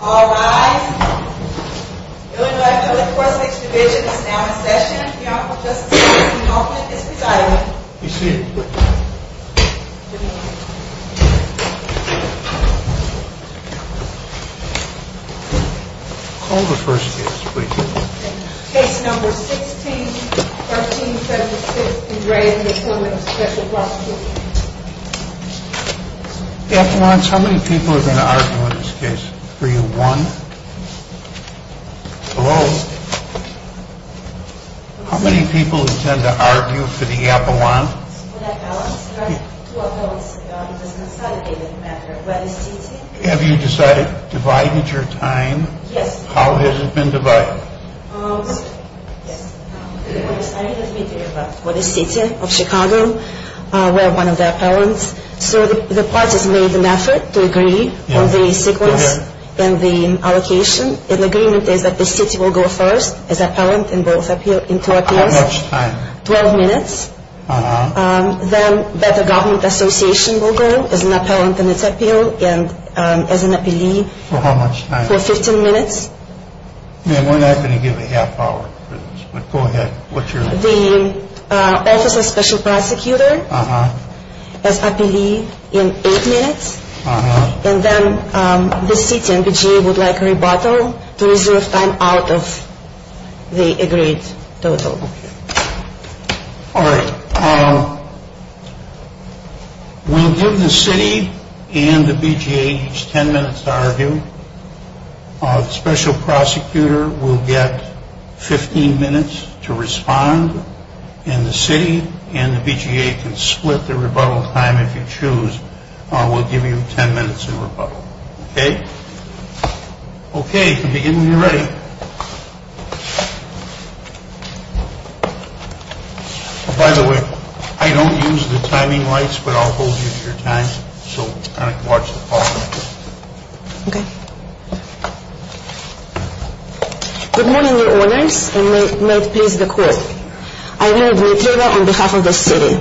All rise. The Illinois Public Prosecution Division is now in session. The Honorable Justice of the U.S. Enrollment is decided. Be seated. Call the first case, please. Case number 16-13-76, Andre and the Appointment of the Special Prosecutor. Appellants, how many people are going to argue in this case? Are you one? Hello? How many people intend to argue for the appellant? Have you decided, divided your time? Yes. How has it been divided? Yes. First, I need to speak to you about the city of Chicago, where one of the appellants. So the parties made an effort to agree on the sequence and the allocation. And the agreement is that the city will go first as appellant in both appeals. How much time? Twelve minutes. Uh-huh. Then Better Government Association will go as an appellant in its appeal and as an appellee. For how much time? For 15 minutes. And we're not going to give a half hour for this, but go ahead. What's your answer? The Office of Special Prosecutor as appellee in eight minutes. Uh-huh. And then the city and BGA would like a rebuttal to reserve time out of the agreed total. All right. We'll give the city and the BGA each ten minutes to argue. The Special Prosecutor will get 15 minutes to respond. And the city and the BGA can split the rebuttal time if you choose. We'll give you ten minutes of rebuttal. Okay? Okay. You can begin when you're ready. By the way, I don't use the timing lights, but I'll hold you to your time. So kind of watch the clock. Okay. Good morning, Your Honors, and may it please the Court. I will read the appeal on behalf of the city.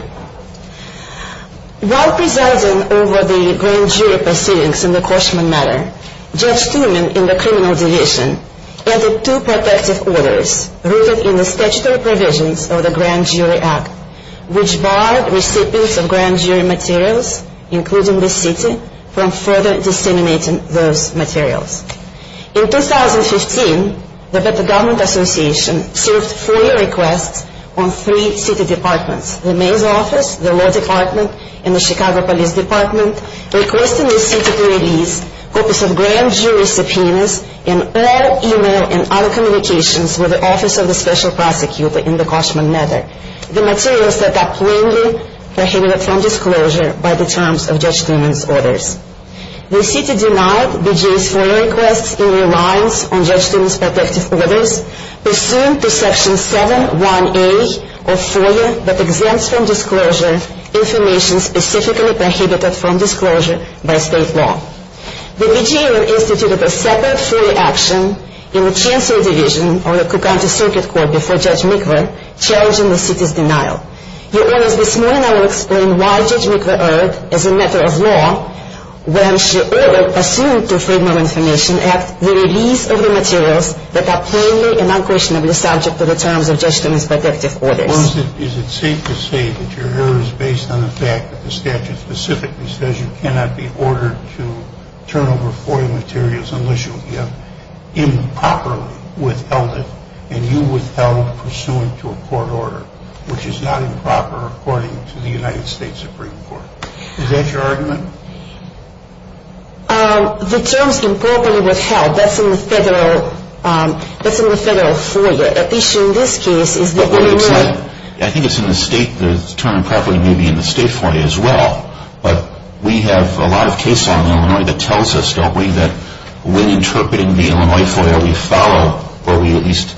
While presiding over the grand jury proceedings in the Cauchman matter, Judge Truman in the criminal division added two protective orders rooted in the statutory provisions of the Grand Jury Act, which barred recipients of grand jury materials, including the city, from further disseminating those materials. In 2015, the Better Government Association served four requests on three city departments, the mayor's office, the law department, and the Chicago Police Department, requesting the city to release copies of grand jury subpoenas and all e-mail and other communications with the Office of the Special Prosecutor in the Cauchman matter, the materials that are plainly prohibited from disclosure by the terms of Judge Truman's orders. The city denied BGA's FOIA requests in reliance on Judge Truman's protective orders, pursuant to Section 7-1A of FOIA that exempts from disclosure information specifically prohibited from disclosure by state law. The BGA instituted a separate FOIA action in the Chancellor Division of the Cook County Circuit Court before Judge Mikva, challenging the city's denial. Your Honors, this morning I will explain why Judge Mikva erred as a matter of law when she erred pursuant to FOIA information at the release of the materials that are plainly and unquestionably subject to the terms of Judge Truman's protective orders. Is it safe to say that your error is based on the fact that the statute specifically says you cannot be ordered to turn over FOIA materials unless you have improperly withheld it and you withheld pursuant to a court order, which is not improper according to the United States Supreme Court? Is that your argument? The terms improperly withheld, that's in the federal FOIA, at least in this case. I think it's in the state, the term improperly may be in the state FOIA as well, but we have a lot of case law in Illinois that tells us, don't we, that when interpreting the Illinois FOIA we follow, or we at least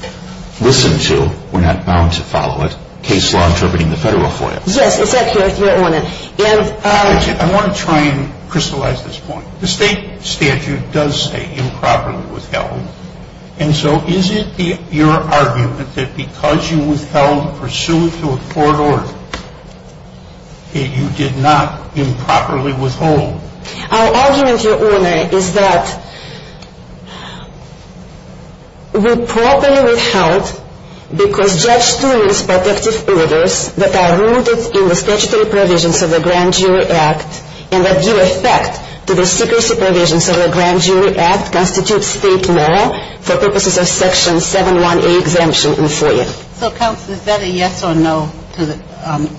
listen to, we're not bound to follow it, case law interpreting the federal FOIA. Yes, it's accurate, Your Honor. I want to try and crystallize this point. The state statute does say improperly withheld, and so is it your argument that because you withheld pursuant to a court order that you did not improperly withhold? Our argument, Your Honor, is that we properly withheld because Judge Stewart's protective orders that are rooted in the statutory provisions of the Grand Jury Act and that give effect to the secrecy provisions of the Grand Jury Act constitute state law for purposes of Section 718 exemption in FOIA. So, Counsel, is that a yes or no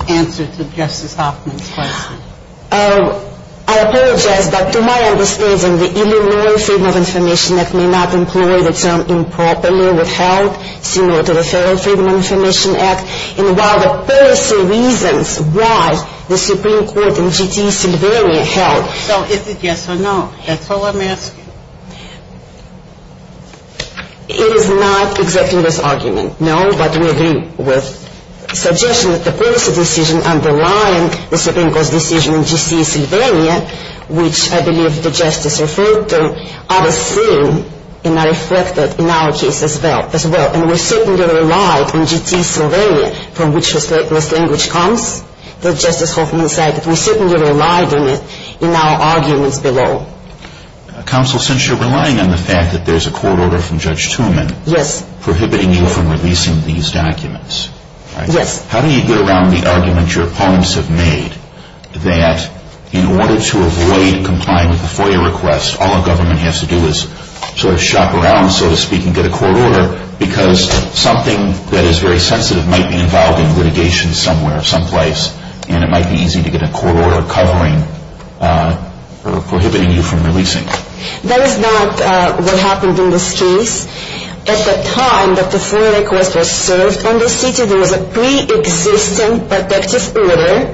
answer to Justice Hoffman's question? I apologize, but to my understanding, the Illinois Freedom of Information Act may not employ the term improperly withheld, similar to the Federal Freedom of Information Act, and while the policy reasons why the Supreme Court in G.C. Sylvania held. So is it yes or no? That's all I'm asking. It is not exactly this argument, no, but we agree with the suggestion that the policy decision underlying the Supreme Court's decision in G.C. Sylvania, which I believe the Justice referred to, are the same and are reflected in our case as well. And we certainly relied on G.C. Sylvania, from which this language comes, that Justice Hoffman said that we certainly relied on it in our arguments below. Counsel, since you're relying on the fact that there's a court order from Judge Tumen prohibiting you from releasing these documents, how do you get around the argument your opponents have made that in order to avoid complying with the FOIA request, all a government has to do is sort of shop around, so to speak, and get a court order, because something that is very sensitive might be involved in litigation somewhere, someplace, and it might be easy to get a court order covering or prohibiting you from releasing? That is not what happened in this case. At the time that the FOIA request was served in this city, there was a pre-existing protective order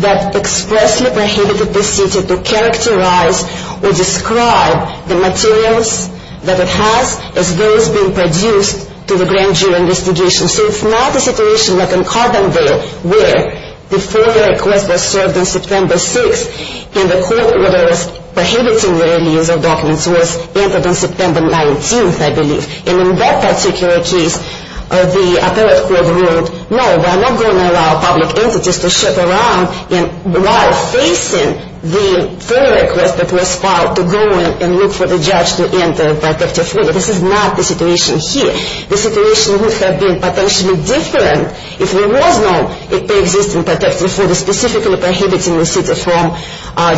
that expressly prohibited the city to characterize or describe the materials that it has as those being produced to the grand jury investigation. So it's not a situation like in Carbondale where the FOIA request was served on September 6th and the court order prohibiting the release of documents was entered on September 19th, I believe. And in that particular case, the appellate court ruled, no, we're not going to allow public entities to shop around while facing the FOIA request that was filed to go in and look for the judge to enter protective order. This is not the situation here. The situation would have been potentially different if there was no pre-existing protective order specifically prohibiting the city from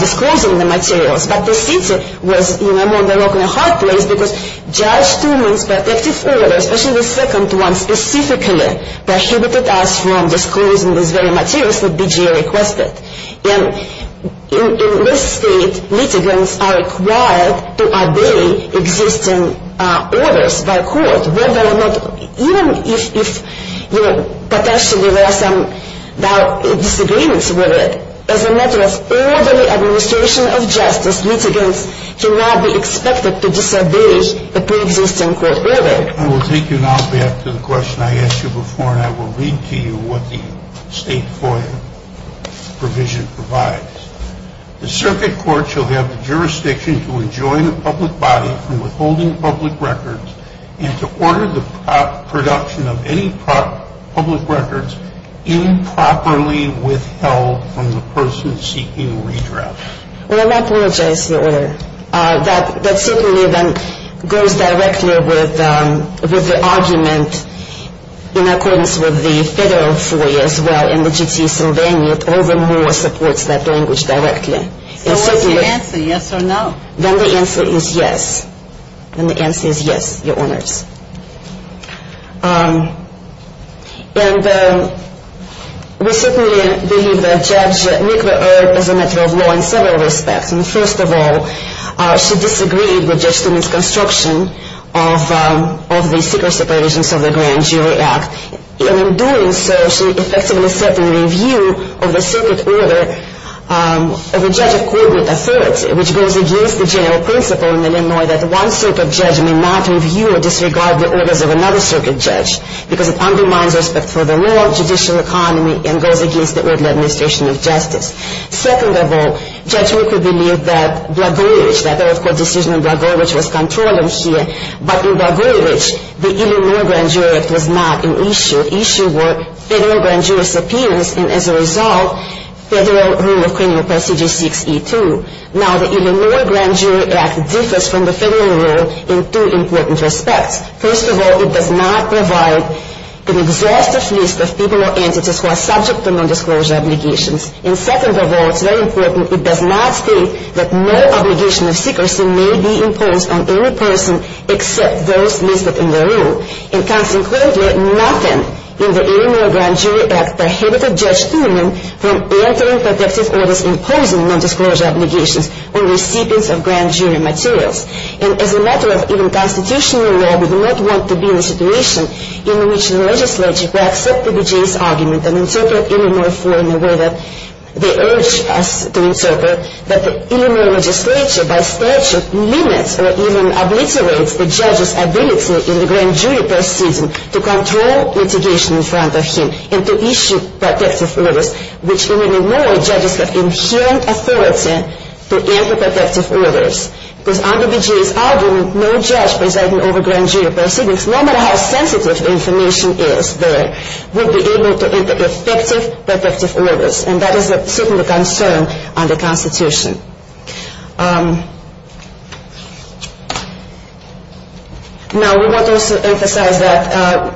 disclosing the materials. But the city was more than a rock than a hard place because Judge Truman's protective order, especially the second one specifically, prohibited us from disclosing these very materials that BJA requested. And in this state, litigants are required to obey existing orders by court, whether or not, even if potentially there are some disagreements with it. As a matter of orderly administration of justice, litigants should not be expected to disobey a pre-existing court order. I will take you now back to the question I asked you before, and I will read to you what the state FOIA provision provides. The circuit court shall have the jurisdiction to enjoin a public body from withholding public records and to order the production of any public records improperly withheld from the person seeking redress. Well, I apologize for the order. That certainly then goes directly with the argument in accordance with the federal FOIA as well, and the J.T. Sylvania, it all the more supports that language directly. So what's the answer, yes or no? Then the answer is yes. Then the answer is yes, Your Honors. And we certainly believe that Judge Nicola Earp is a matter of law in several respects. First of all, she disagreed with Judge Stoneman's construction of the secrecy provisions of the Grand Jury Act. And in doing so, she effectively set in review of the circuit order of a judge of corporate authority, which goes against the general principle in Illinois that one circuit judge may not review or disregard the orders of another circuit judge because it undermines respect for the law, judicial economy, and goes against the orderly administration of justice. Second of all, Judge Earp could believe that Blagojevich, that there was court decision on Blagojevich, was controlling here, but in Blagojevich, the Illinois Grand Jury Act was not an issue. Issue were federal grand jury's appearance, and as a result, federal rule of criminal procedure 6E2. Now, the Illinois Grand Jury Act differs from the federal rule in two important respects. First of all, it does not provide an exhaustive list of people or entities who are subject to nondisclosure obligations. And second of all, it's very important, it does not state that no obligation of secrecy may be imposed on any person except those listed in the rule. And consequently, nothing in the Illinois Grand Jury Act prohibited Judge Stoneman from entering protective orders imposing nondisclosure obligations on recipients of grand jury materials. And as a matter of even constitutional law, we do not want to be in a situation in which the legislature could accept Blagojevich's argument and interpret Illinois 4 in a way that they urge us to interpret, but the Illinois legislature, by statute, limits or even obliterates the judge's ability in the grand jury proceeding to control litigation in front of him and to issue protective orders, which in Illinois judges have inherent authority to enter protective orders. Because under Blagojevich's argument, no judge presiding over grand jury proceedings, no matter how sensitive the information is there, will be able to enter effective protective orders. And that is certainly a concern under the Constitution. Now, we want to also emphasize that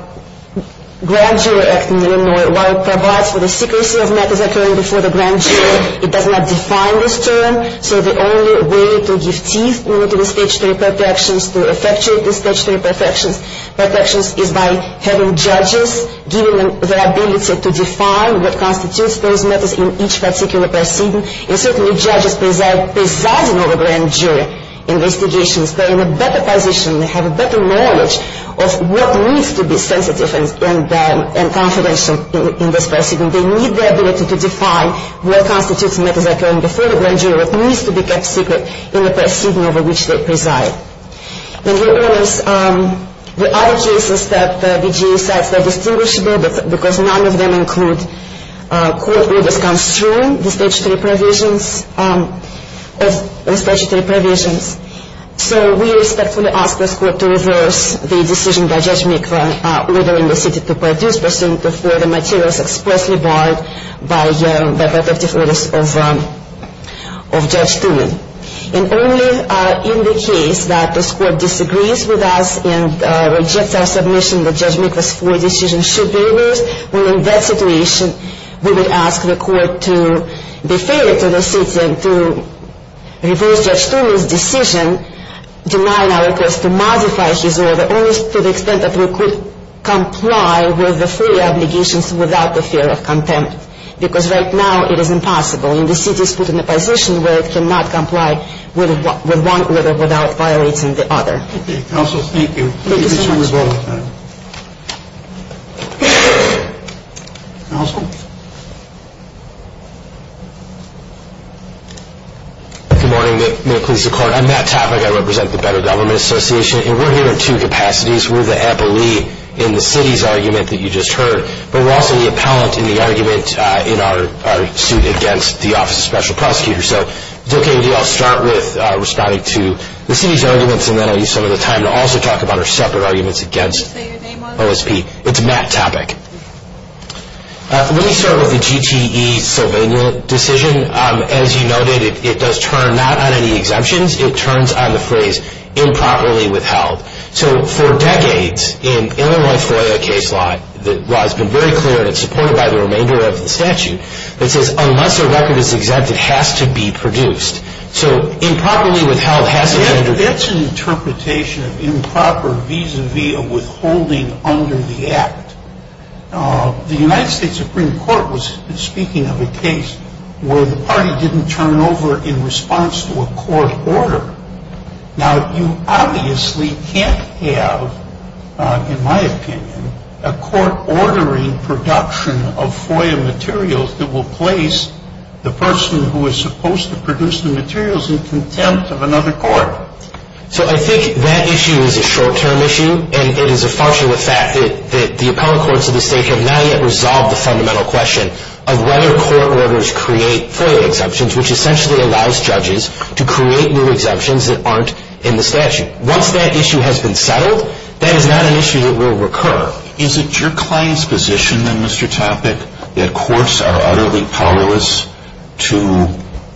Grand Jury Act in Illinois, while it provides for the secrecy of matters occurring before the grand jury, it does not define this term. So the only way to give teeth to the statutory protections, to effectuate the statutory protections, is by having judges giving them the ability to define what constitutes those matters in each particular proceeding. And certainly judges presiding over grand jury investigations, they're in a better position, they have a better knowledge of what needs to be sensitive and confidential in this proceeding. They need the ability to define what constitutes matters occurring before the grand jury, what needs to be kept secret in the proceeding over which they preside. And here is the other cases that the BJA says are distinguishable, because none of them include court orders come through the statutory provisions. So we respectfully ask this court to reverse the decision by Judge Mikva ordering the city to produce pursuant to four other materials expressly barred by the protective orders of Judge Toomey. And only in the case that this court disagrees with us and rejects our submission that Judge Mikva's four decisions should be reversed, well, in that situation, we would ask the court to be fair to the city and to reverse Judge Toomey's decision denying our request to modify his order only to the extent that we could comply with the four obligations without the fear of contempt. Because right now it is impossible, and the city is put in a position where it cannot comply with one order without violating the other. Okay, counsel, thank you. Thank you, Mr. Revolta. Counsel? Good morning. May it please the court. I'm Matt Topek. I represent the Better Government Association. And we're here in two capacities. We're the appellee in the city's argument that you just heard, but we're also the appellant in the argument in our suit against the Office of Special Prosecutors. So it's okay to start with responding to the city's arguments, and then I'll use some of the time to also talk about our separate arguments against OSP. It's Matt Topek. Let me start with the GTE Sylvania decision. As you noted, it does turn not on any exemptions. It turns on the phrase improperly withheld. So for decades, in Illinois FOIA case law, the law has been very clear, and it's supported by the remainder of the statute. It says unless a record is exempt, it has to be produced. So improperly withheld has to be produced. That's an interpretation of improper vis-a-vis a withholding under the Act. The United States Supreme Court was speaking of a case where the party didn't turn over in response to a court order. Now, you obviously can't have, in my opinion, a court ordering production of FOIA materials that will place the person who is supposed to produce the materials in contempt of another court. So I think that issue is a short-term issue, and it is a function of the fact that the appellate courts of the state have not yet resolved the fundamental question of whether court orders create FOIA exemptions, which essentially allows judges to create new exemptions that aren't in the statute. Once that issue has been settled, that is not an issue that will recur. Is it your client's position, then, Mr. Topic, that courts are utterly powerless to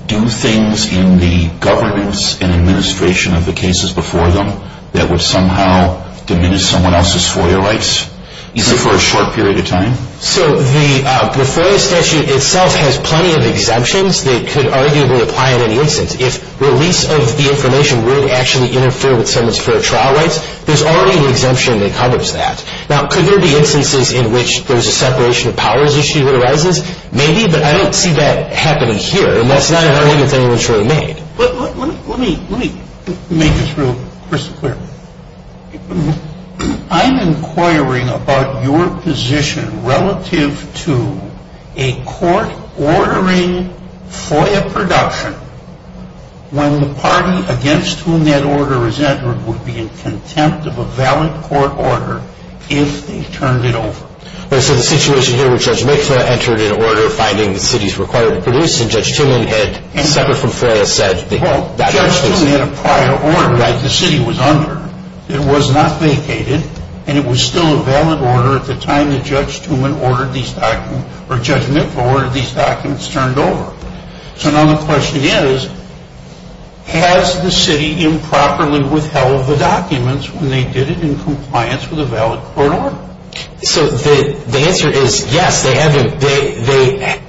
do things in the governance and administration of the cases before them that would somehow diminish someone else's FOIA rights, even for a short period of time? So the FOIA statute itself has plenty of exemptions. They could arguably apply in any instance. If release of the information would actually interfere with someone's FOIA trial rights, there's already an exemption that covers that. Now, could there be instances in which there's a separation of powers issue that arises? Maybe, but I don't see that happening here. And that's not an argument that anyone's really made. But let me make this real crystal clear. I'm inquiring about your position relative to a court ordering FOIA production when the party against whom that order is entered would be in contempt of a valid court order if they turned it over. So the situation here where Judge Mikva entered an order finding the cities required to produce, and Judge Tumman had separate from FOIA said that... Well, Judge Tumman had a prior order that the city was under. It was not vacated, and it was still a valid order at the time that Judge Tumman ordered these documents, or Judge Mikva ordered these documents turned over. So now the question is, has the city improperly withheld the documents when they did it in compliance with a valid court order? So the answer is, yes, they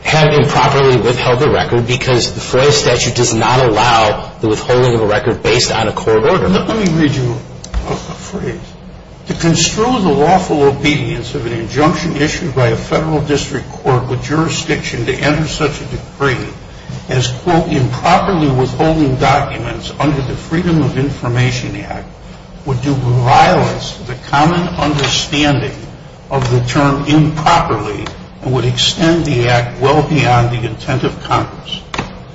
have improperly withheld the record because the FOIA statute does not allow the withholding of a record based on a court order. Let me read you a phrase. To construe the lawful obedience of an injunction issued by a federal district court with jurisdiction to enter such a decree as, quote, improperly withholding documents under the Freedom of Information Act would do violence to the common understanding of the term improperly and would extend the act well beyond the intent of Congress.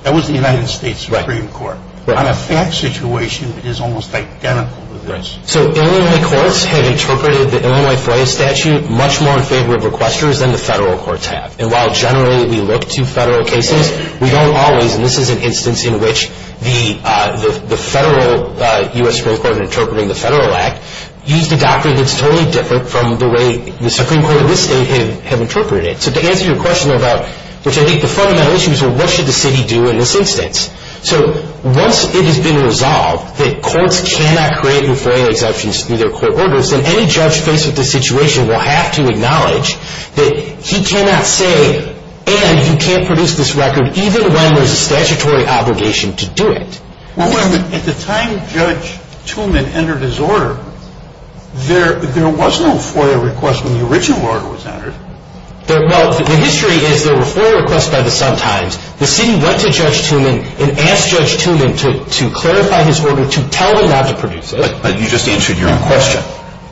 That was the United States Supreme Court. On a fact situation, it is almost identical to this. So Illinois courts have interpreted the Illinois FOIA statute much more in favor of requesters than the federal courts have. And while generally we look to federal cases, we don't always, and this is an instance in which the federal U.S. Supreme Court in interpreting the federal act used a doctrine that's totally different from the way the Supreme Court of this state have interpreted it. So to answer your question about, which I think the fundamental issue is, well, what should the city do in this instance? So once it has been resolved that courts cannot create FOIA exemptions through their court orders, then any judge faced with this situation will have to acknowledge that he cannot say, and you can't produce this record even when there's a statutory obligation to do it. Well, wait a minute. At the time Judge Tuman entered his order, there was no FOIA request when the original order was entered. Well, the history is there were FOIA requests by the sometimes. The city went to Judge Tuman and asked Judge Tuman to clarify his order, to tell him not to produce it. But you just answered your own question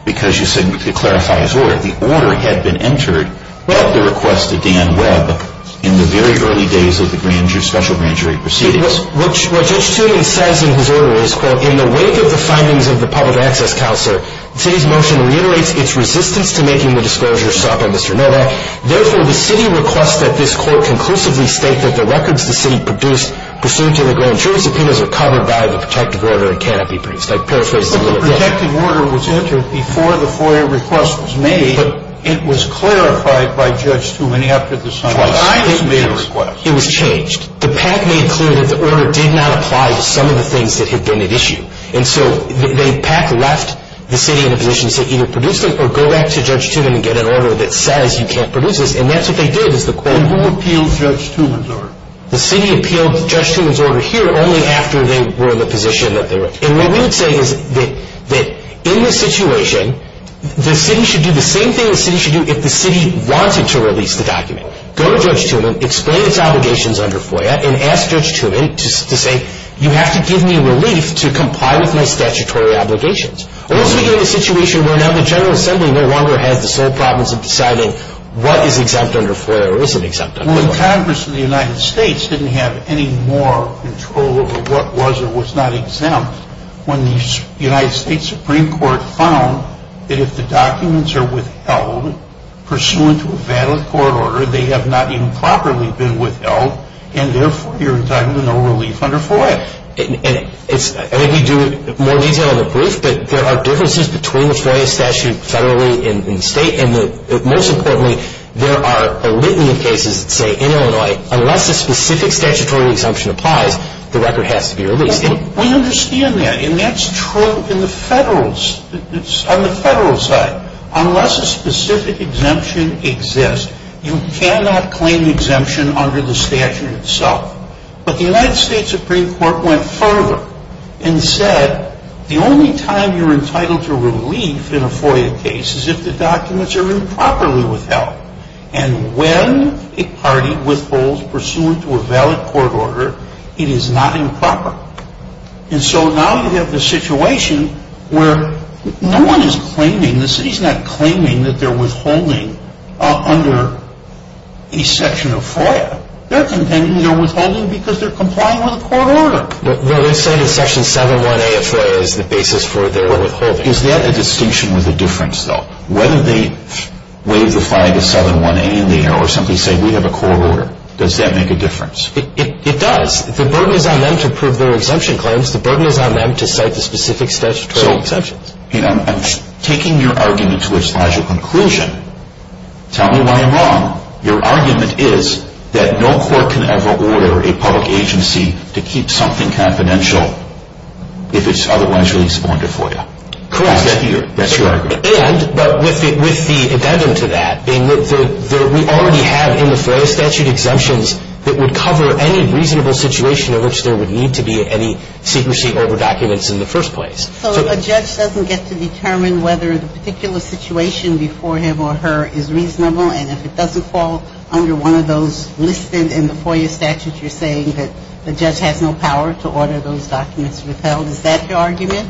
because you said you could clarify his order. The order had been entered at the request of Dan Webb in the very early days of the special grand jury proceedings. What Judge Tuman says in his order is, quote, in the wake of the findings of the public access counselor, the city's motion reiterates its resistance to making the disclosure sought by Mr. Noda. Therefore, the city requests that this court conclusively state that the records the city produced pursuant to the grand jury subpoenas are covered by the protective order it cannot be produced. I'd paraphrase that. When the protective order was entered before the FOIA request was made, it was clarified by Judge Tuman after the signing. Twice. It was made a request. It was changed. The PAC made clear that the order did not apply to some of the things that had been at issue. And so the PAC left the city in a position to say either produce it or go back to Judge Tuman and get an order that says you can't produce this. And that's what they did is the quote. And who appealed Judge Tuman's order? The city appealed Judge Tuman's order here only after they were in the position that they were. And what we would say is that in this situation, the city should do the same thing the city should do if the city wanted to release the document. Go to Judge Tuman, explain its obligations under FOIA, and ask Judge Tuman to say you have to give me relief to comply with my statutory obligations. Or else we get into a situation where now the General Assembly no longer has the sole province of deciding what is exempt under FOIA or isn't exempt under FOIA. Well, the Congress of the United States didn't have any more control over what was or was not exempt when the United States Supreme Court found that if the documents are withheld, pursuant to a valid court order, they have not even properly been withheld, and therefore you're entitled to no relief under FOIA. I think you do more detail in the brief, but there are differences between the FOIA statute federally and state, and most importantly, there are a litany of cases that say in Illinois, unless a specific statutory exemption applies, the record has to be released. We understand that, and that's true on the federal side. Unless a specific exemption exists, you cannot claim exemption under the statute itself. But the United States Supreme Court went further and said the only time you're entitled to relief in a FOIA case is if the documents are improperly withheld, and when a party withholds pursuant to a valid court order, it is not improper. And so now you have the situation where no one is claiming, the city's not claiming that they're withholding under a section of FOIA. They're contending they're withholding because they're complying with a court order. They're saying that Section 7.1a of FOIA is the basis for their withholding. Is that a distinction with a difference, though? Whether they wave the flag of 7.1a in the air or simply say we have a court order, does that make a difference? It does. The burden is on them to prove their exemption claims. The burden is on them to cite the specific statutory exemptions. I'm taking your argument to its logical conclusion. Tell me why I'm wrong. Your argument is that no court can ever order a public agency to keep something confidential if it's otherwise released on to FOIA. Correct. That's your argument. And, but with the addendum to that, we already have in the FOIA statute exemptions that would cover any reasonable situation in which there would need to be any secrecy over documents in the first place. So if a judge doesn't get to determine whether the particular situation before him or her is reasonable, and if it doesn't fall under one of those listed in the FOIA statute you're saying that the judge has no power to order those documents withheld, is that your argument?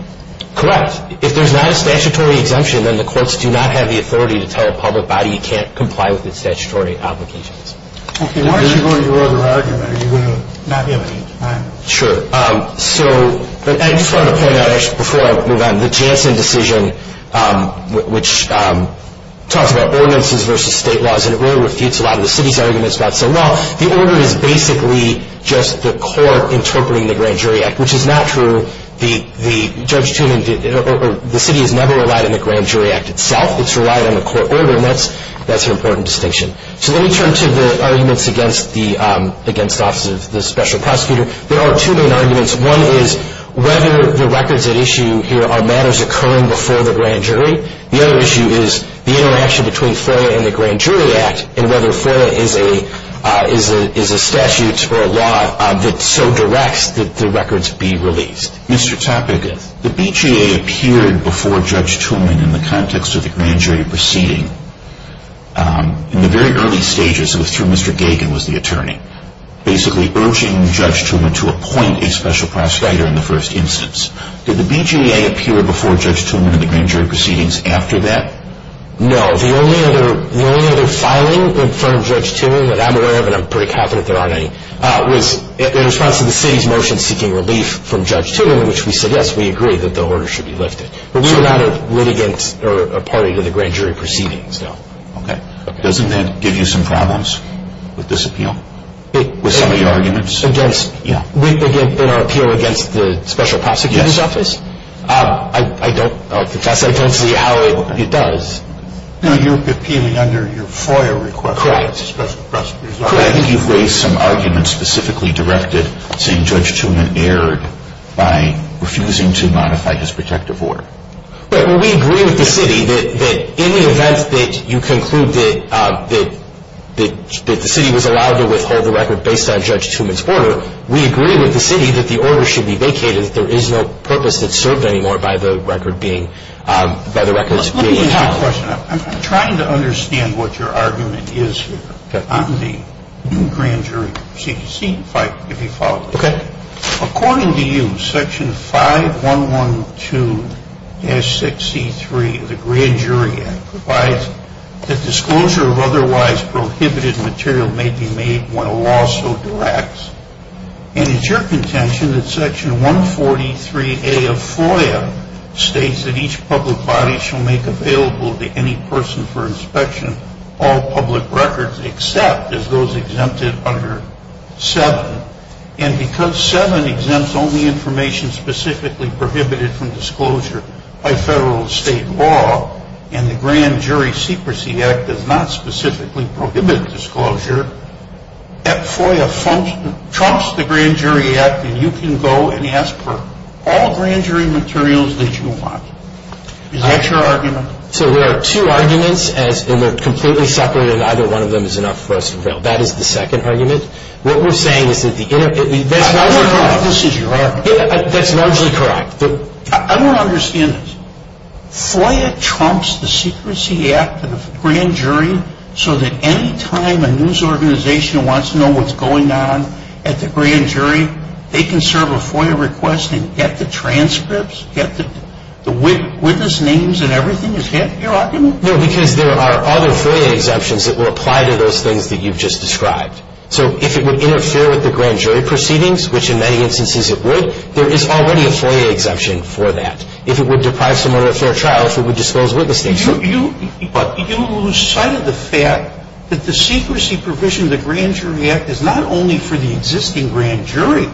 Correct. If there's not a statutory exemption, then the courts do not have the authority to tell a public body it can't comply with its statutory obligations. Okay. Why don't you go to your other argument? Are you going to not be able to get to mine? Sure. So I just wanted to point out, actually, before I move on, the Janssen decision, which talks about ordinances versus state laws, and it really refutes a lot of the city's arguments about, well, the order is basically just the court interpreting the Grand Jury Act, which is not true. The city has never relied on the Grand Jury Act itself. It's relied on the court order, and that's an important distinction. So let me turn to the arguments against the Office of the Special Prosecutor. There are two main arguments. One is whether the records at issue here are matters occurring before the Grand Jury. The other issue is the interaction between FOIA and the Grand Jury Act and whether FOIA is a statute or a law that so directs that the records be released. Mr. Topek, the BJA appeared before Judge Toulmin in the context of the Grand Jury proceeding. In the very early stages, it was through Mr. Gagan, who was the attorney, basically urging Judge Toulmin to appoint a special prosecutor in the first instance. Did the BJA appear before Judge Toulmin in the Grand Jury proceedings after that? No. The only other filing in front of Judge Toulmin that I'm aware of, and I'm pretty confident there aren't any, was in response to the city's motion seeking relief from Judge Toulmin in which we said, yes, we agree that the order should be lifted. But we were not a litigant or a party to the Grand Jury proceedings, no. Okay. Doesn't that give you some problems with this appeal, with some of the arguments? In our appeal against the Special Prosecutor's Office? Yes. I don't see how it does. No, you're appealing under your FOIA request. Correct. Special Prosecutor's Office. Correct. I think you've raised some arguments specifically directed saying Judge Toulmin erred by refusing to modify his protective order. But we agree with the city that in the event that you conclude that the city was allowed to withhold the record based on Judge Toulmin's order, we agree with the city that the order should be vacated, that there is no purpose that's served anymore by the record being, by the records being held. Let me ask you a question. I'm trying to understand what your argument is here on the Grand Jury proceedings. See if you follow. Okay. According to you, Section 5112-6C3 of the Grand Jury Act provides that disclosure of otherwise prohibited material may be made when a law so directs. And it's your contention that Section 143A of FOIA states that each public body shall make available to any person for inspection all public records except as those exempted under 7. And because 7 exempts only information specifically prohibited from disclosure by federal or state law, and the Grand Jury Secrecy Act does not specifically prohibit disclosure, that FOIA trumps the Grand Jury Act, and you can go and ask for all Grand Jury materials that you want. Is that your argument? So there are two arguments, and they're completely separate, and neither one of them is enough for us to reveal. That is the second argument. What we're saying is that the inter- I don't know if this is your argument. That's largely correct. I don't understand this. FOIA trumps the Secrecy Act of the Grand Jury so that any time a news organization wants to know what's going on at the Grand Jury, they can serve a FOIA request and get the transcripts, get the witness names, and everything? Is that your argument? No, because there are other FOIA exemptions that will apply to those things that you've just described. So if it would interfere with the Grand Jury proceedings, which in many instances it would, there is already a FOIA exemption for that. If it would deprive someone of a fair trial, if it would disclose witness names. But you cited the fact that the secrecy provision of the Grand Jury Act is not only for the existing Grand Jury.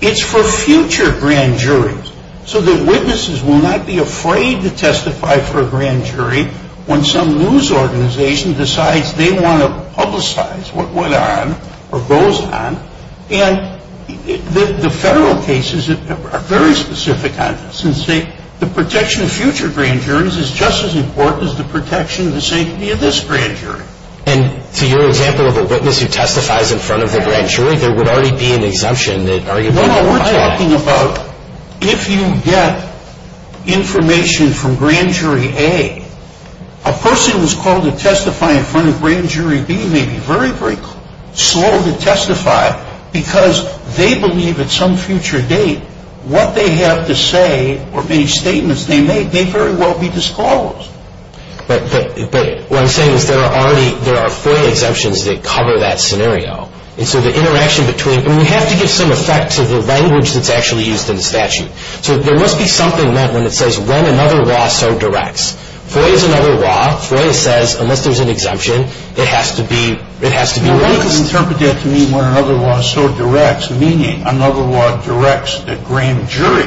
It's for future Grand Juries so that witnesses will not be afraid to testify for a Grand Jury when some news organization decides they want to publicize what went on or goes on. And the federal cases are very specific on this and say the protection of future Grand Juries is just as important as the protection of the safety of this Grand Jury. And to your example of a witness who testifies in front of the Grand Jury, there would already be an exemption that arguably would apply. No, no, we're talking about if you get information from Grand Jury A, a person who's called to testify in front of Grand Jury B may be very, very slow to testify because they believe at some future date what they have to say or any statements they make may very well be disclosed. But what I'm saying is there are already, there are FOIA exemptions that cover that scenario. And so the interaction between, I mean, you have to give some effect to the language that's actually used in the statute. So there must be something meant when it says when another law so directs. FOIA is another law. FOIA says unless there's an exemption, it has to be released. I would interpret that to mean when another law so directs, meaning another law directs that Grand Jury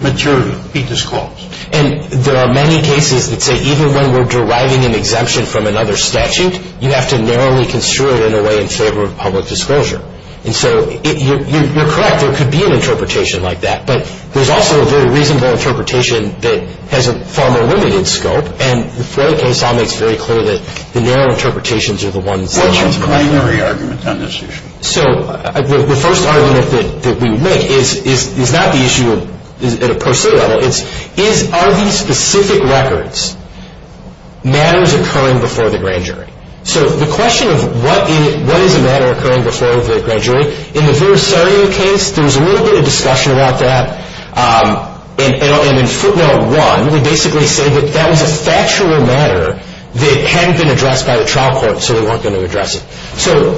material be disclosed. And there are many cases that say even when we're deriving an exemption from another statute, you have to narrowly construe it in a way in favor of public disclosure. And so you're correct. There could be an interpretation like that. But there's also a very reasonable interpretation that has a far more limited scope. And the FOIA case all makes very clear that the narrow interpretations are the ones that are correct. What's your primary argument on this issue? So the first argument that we would make is not the issue at a per se level. It's are these specific records matters occurring before the Grand Jury? So the question of what is a matter occurring before the Grand Jury, in the Verisario case there was a little bit of discussion about that. And in footnote one, we basically say that that was a factual matter that hadn't been addressed by the trial court, so they weren't going to address it. So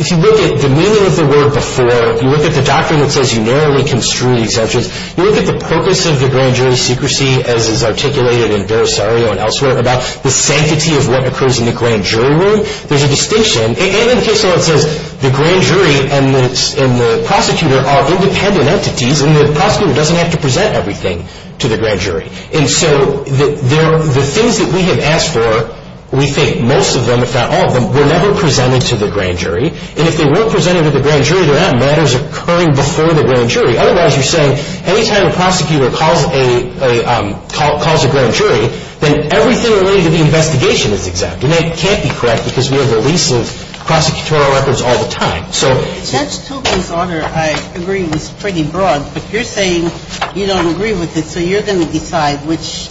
if you look at the meaning of the word before, you look at the doctrine that says you narrowly construe the exemptions, you look at the purpose of the Grand Jury secrecy as is articulated in Verisario and elsewhere about the sanctity of what occurs in the Grand Jury room, there's a distinction. And in the case where it says the Grand Jury and the prosecutor are independent entities and the prosecutor doesn't have to present everything to the Grand Jury. And so the things that we have asked for, we think most of them, if not all of them, were never presented to the Grand Jury. And if they were presented to the Grand Jury, they're not matters occurring before the Grand Jury. Otherwise, you're saying any time a prosecutor calls a Grand Jury, then everything related to the investigation is exempt. And that can't be correct because we have a lease of prosecutorial records all the time. So... Justice Sotomayor, I agree this is pretty broad. But you're saying you don't agree with it so you're going to decide which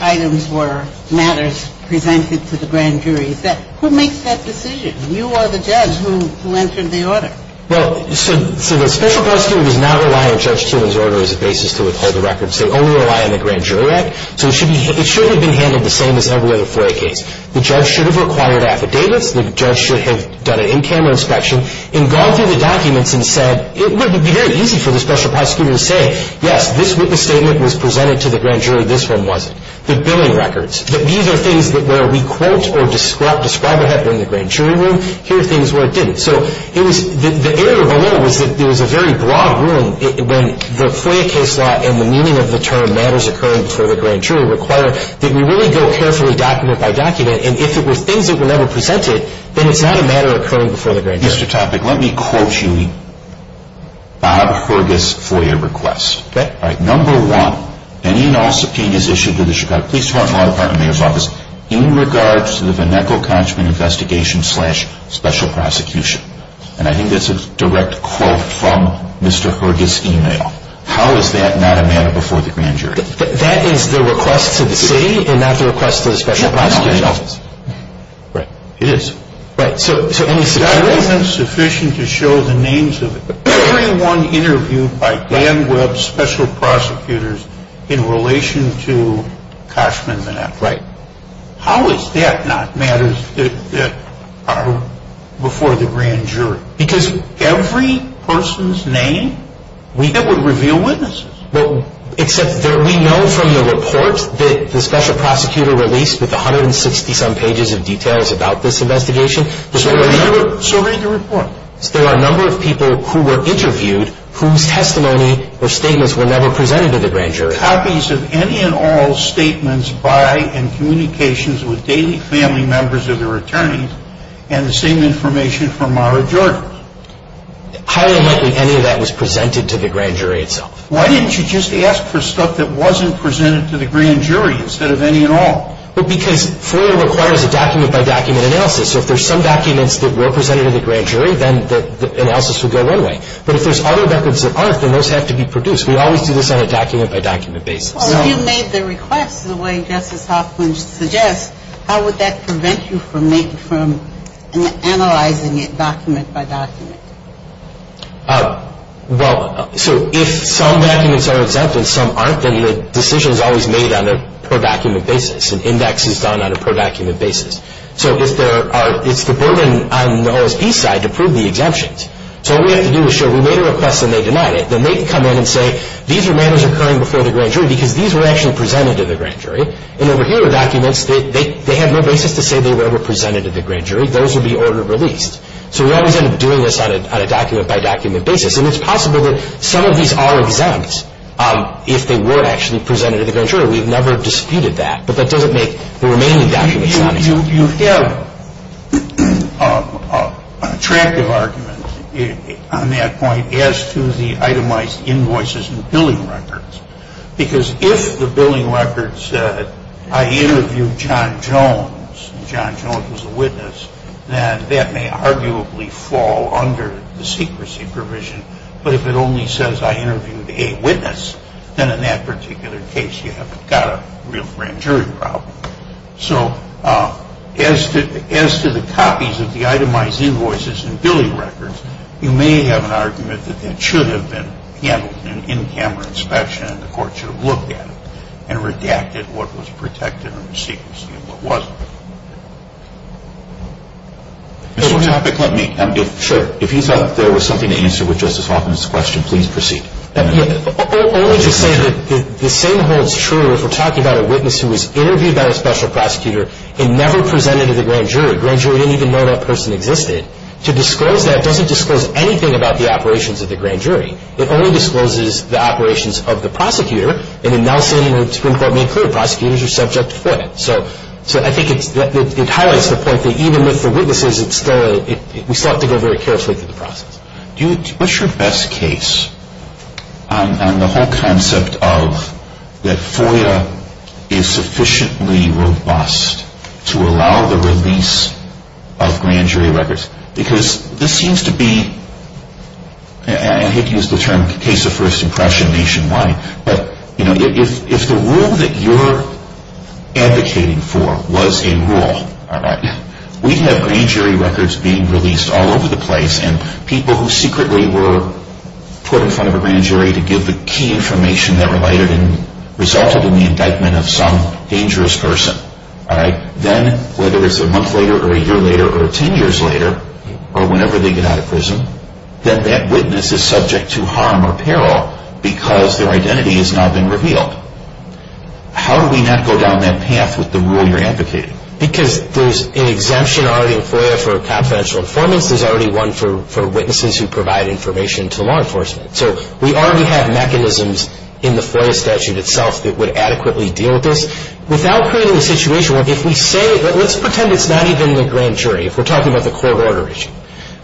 items were matters presented to the Grand Jury. Is that – who makes that decision? You are the judge who entered the order. Well, so the special prosecutor does not rely on Judge Tieuman's order as a basis to withhold the records. They only rely on the Grand Jury Act. So it should have been handled the same as every other fray case. The judge should've required affidavits. The judge should have done an in-camera inspection and gone through the documents and said, it would be very easy for the special prosecutor to say, yes, this witness statement was presented to the Grand Jury. This one wasn't. The billing records. These are things where we quote or describe what happened in the Grand Jury room. Here are things where it didn't. So it was – the error below was that there was a very broad room when the fray case law and the meaning of the term matters occurring before the Grand Jury require that we really go carefully document by document. And if it were things that were never presented, then it's not a matter occurring before the Grand Jury. Mr. Topic, let me quote you Bob Hurgis FOIA requests. Okay. All right. Number one, any and all subpoenas issued to the Chicago Police Department, Law Department, Mayor's Office, in regards to the Van Neckl-Konchman investigation slash special prosecution. And I think that's a direct quote from Mr. Hurgis' email. How is that not a matter before the Grand Jury? That is the request to the city and not the request to the special prosecutor. Right. It is. Right. So any subpoenas? That isn't sufficient to show the names of everyone interviewed by Dan Webb's special prosecutors in relation to Konchman-Van Neckl. Right. How is that not matters that are before the Grand Jury? Because every person's name we know would reveal witnesses. Well, except that we know from the report that the special prosecutor released with 160 some pages of details about this investigation. So read the report. There are a number of people who were interviewed whose testimony or statements were never presented to the Grand Jury. Copies of any and all statements by and communications with daily family members of their attorneys and the same information from Mara Jordan. Highly unlikely any of that was presented to the Grand Jury itself. Why didn't you just ask for stuff that wasn't presented to the Grand Jury instead of any and all? Because FOIA requires a document-by-document analysis. So if there's some documents that were presented to the Grand Jury, then the analysis would go one way. But if there's other records that aren't, then those have to be produced. We always do this on a document-by-document basis. Well, if you made the request the way Justice Hoffman suggests, how would that prevent you from analyzing it document-by-document? Well, so if some documents are exempt and some aren't, then the decision is always made on a per-document basis. An index is done on a per-document basis. So it's the burden on the OSB side to prove the exemptions. So what we have to do is show we made a request and they denied it. Then they can come in and say these are matters occurring before the Grand Jury because these were actually presented to the Grand Jury. And over here are documents that they have no basis to say they were ever presented to the Grand Jury. Those would be ordered released. So we always end up doing this on a document-by-document basis. And it's possible that some of these are exempt if they were actually presented to the Grand Jury. We've never disputed that, but that doesn't make the remaining documents non-exempt. You have attractive arguments on that point as to the itemized invoices and billing records because if the billing record said I interviewed John Jones and John Jones was a witness, then that may arguably fall under the secrecy provision. But if it only says I interviewed a witness, then in that particular case you haven't got a real Grand Jury problem. So as to the copies of the itemized invoices and billing records, you may have an argument that that should have been handled in camera inspection and the court should have looked at it and redacted what was protected under secrecy and what wasn't. Mr. Hoppeck, let me. Sure. If you thought there was something to answer with Justice Hoffman's question, please proceed. Only to say that the same holds true if we're talking about a witness who was interviewed by a special prosecutor and never presented to the Grand Jury. The Grand Jury didn't even know that person existed. To disclose that doesn't disclose anything about the operations of the Grand Jury. It only discloses the operations of the prosecutor, and in Nelson the Supreme Court made clear prosecutors are subject to FOIA. So I think it highlights the point that even with the witnesses, we still have to go very carefully through the process. What's your best case on the whole concept of that FOIA is sufficiently robust to allow the release of Grand Jury records? Because this seems to be, and I hate to use the term case of first impression nationwide, but if the rule that you're advocating for was a rule, we have Grand Jury records being released all over the place and people who secretly were put in front of a Grand Jury to give the key information that resulted in the indictment of some dangerous person. Then whether it's a month later or a year later or ten years later, or whenever they get out of prison, then that witness is subject to harm or peril because their identity has now been revealed. How do we not go down that path with the rule you're advocating? Because there's an exemption already in FOIA for confidential informants. There's already one for witnesses who provide information to law enforcement. So we already have mechanisms in the FOIA statute itself that would adequately deal with this. Without creating a situation where if we say, let's pretend it's not even the Grand Jury, if we're talking about the court order issue.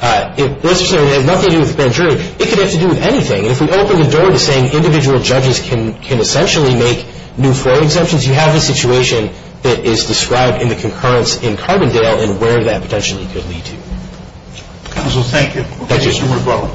Let's pretend it has nothing to do with the Grand Jury. It could have to do with anything. If we open the door to saying individual judges can essentially make new FOIA exemptions, you have a situation that is described in the concurrence in Carbondale and where that potentially could lead to. Counsel, thank you. Thank you. Mr. Marbo.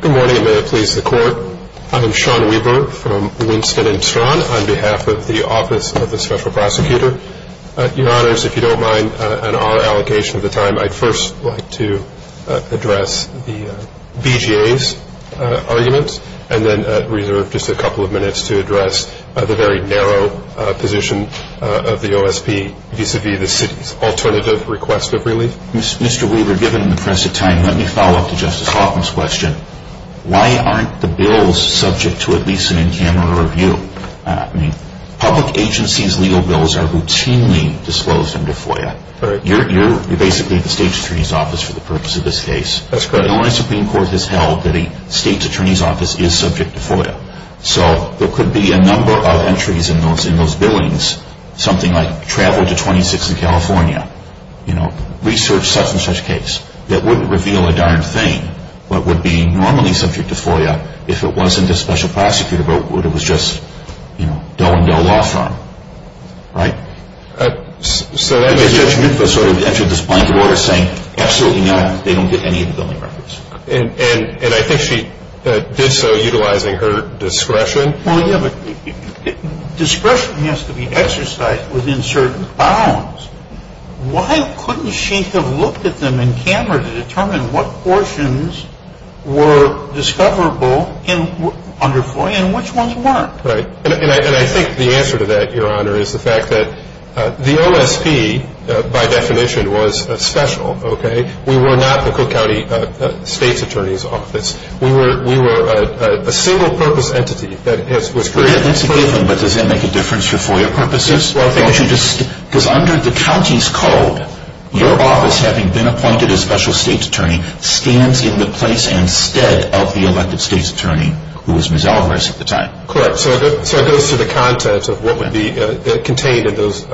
Good morning, and may it please the Court. I am Sean Weaver from Winston and Strawn on behalf of the Office of the Special Prosecutor. Your Honors, if you don't mind an honor allocation of the time, I'd first like to address the BJA's arguments and then reserve the floor to the Court. We have just a couple of minutes to address the very narrow position of the OSP vis-à-vis the City's alternative request of relief. Mr. Weaver, given the press of time, let me follow up to Justice Hoffman's question. Why aren't the bills subject to at least an in-camera review? Public agencies' legal bills are routinely disclosed under FOIA. You're basically the State's Attorney's Office for the purpose of this case. That's correct. The Illinois Supreme Court has held that the State's Attorney's Office is subject to FOIA. So there could be a number of entries in those billings, something like travel to 26 in California, research such-and-such case that wouldn't reveal a darn thing, but would be normally subject to FOIA if it wasn't a special prosecutor, but it was just Doe and Doe Law Firm. Right? So that means Judge Rufus sort of entered this point of order saying, absolutely no, they don't get any of the billing records. And I think she did so utilizing her discretion. Well, yeah, but discretion has to be exercised within certain bounds. Why couldn't she have looked at them in camera to determine what portions were discoverable under FOIA and which ones weren't? Right. And I think the answer to that, Your Honor, is the fact that the OSP, by definition, was special, okay? We were not the Cook County State's Attorney's Office. We were a single-purpose entity that was created. That's a given, but does that make a difference for FOIA purposes? Well, I think it should. Because under the county's code, your office, having been appointed as special State's Attorney, stands in the place and stead of the elected State's Attorney, who was Ms. Alvarez at the time. Correct. So it goes through the contents of what would be contained in those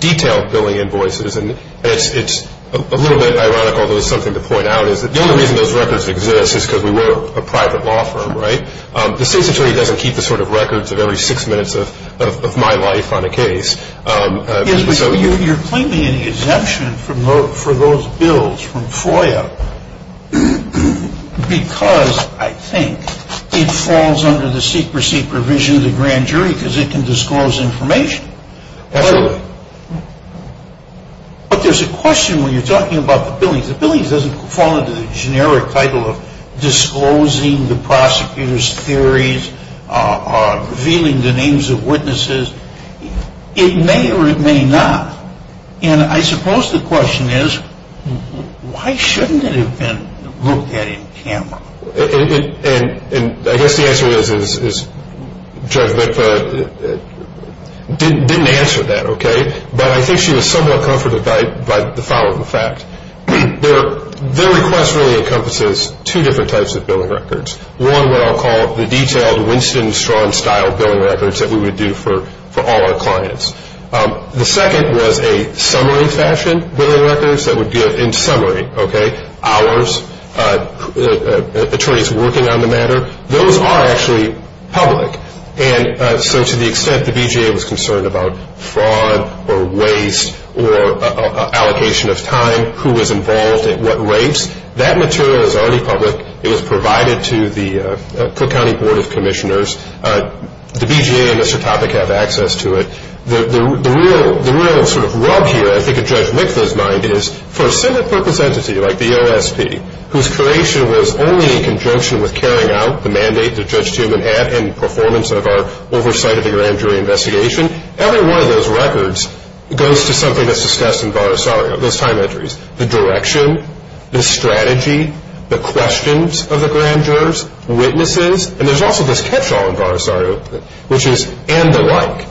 detailed billing invoices. And it's a little bit ironic, although it's something to point out, is that the only reason those records exist is because we were a private law firm, right? The State's Attorney doesn't keep the sort of records of every six minutes of my life on a case. You're claiming an exemption for those bills from FOIA because, I think, it falls under the secrecy provision of the grand jury because it can disclose information. Absolutely. But there's a question when you're talking about the billings. The billings doesn't fall under the generic title of disclosing the prosecutor's theories, or revealing the names of witnesses. It may or it may not. And I suppose the question is, why shouldn't it have been looked at in camera? And I guess the answer is Judge Lipa didn't answer that, okay? But I think she was somewhat comforted by the following fact. Their request really encompasses two different types of billing records. One, what I'll call the detailed Winston-Strahm-style billing records that we would do for all our clients. The second was a summary fashion billing records that would give, in summary, okay, hours, attorneys working on the matter. Those are actually public. And so to the extent the BJA was concerned about fraud or waste or allocation of time, who was involved at what rates, that material is already public. It was provided to the Cook County Board of Commissioners. The BJA and Mr. Topic have access to it. The real sort of rub here, I think, in Judge Lipa's mind is for a Senate purpose entity like the OSP, whose creation was only in conjunction with carrying out the mandate that Judge Tuman had in performance of our oversight of the grand jury investigation, every one of those records goes to something that's discussed in Bar Asario, those time entries. The direction, the strategy, the questions of the grand jurors, witnesses, and there's also this catch-all in Bar Asario, which is, and the like.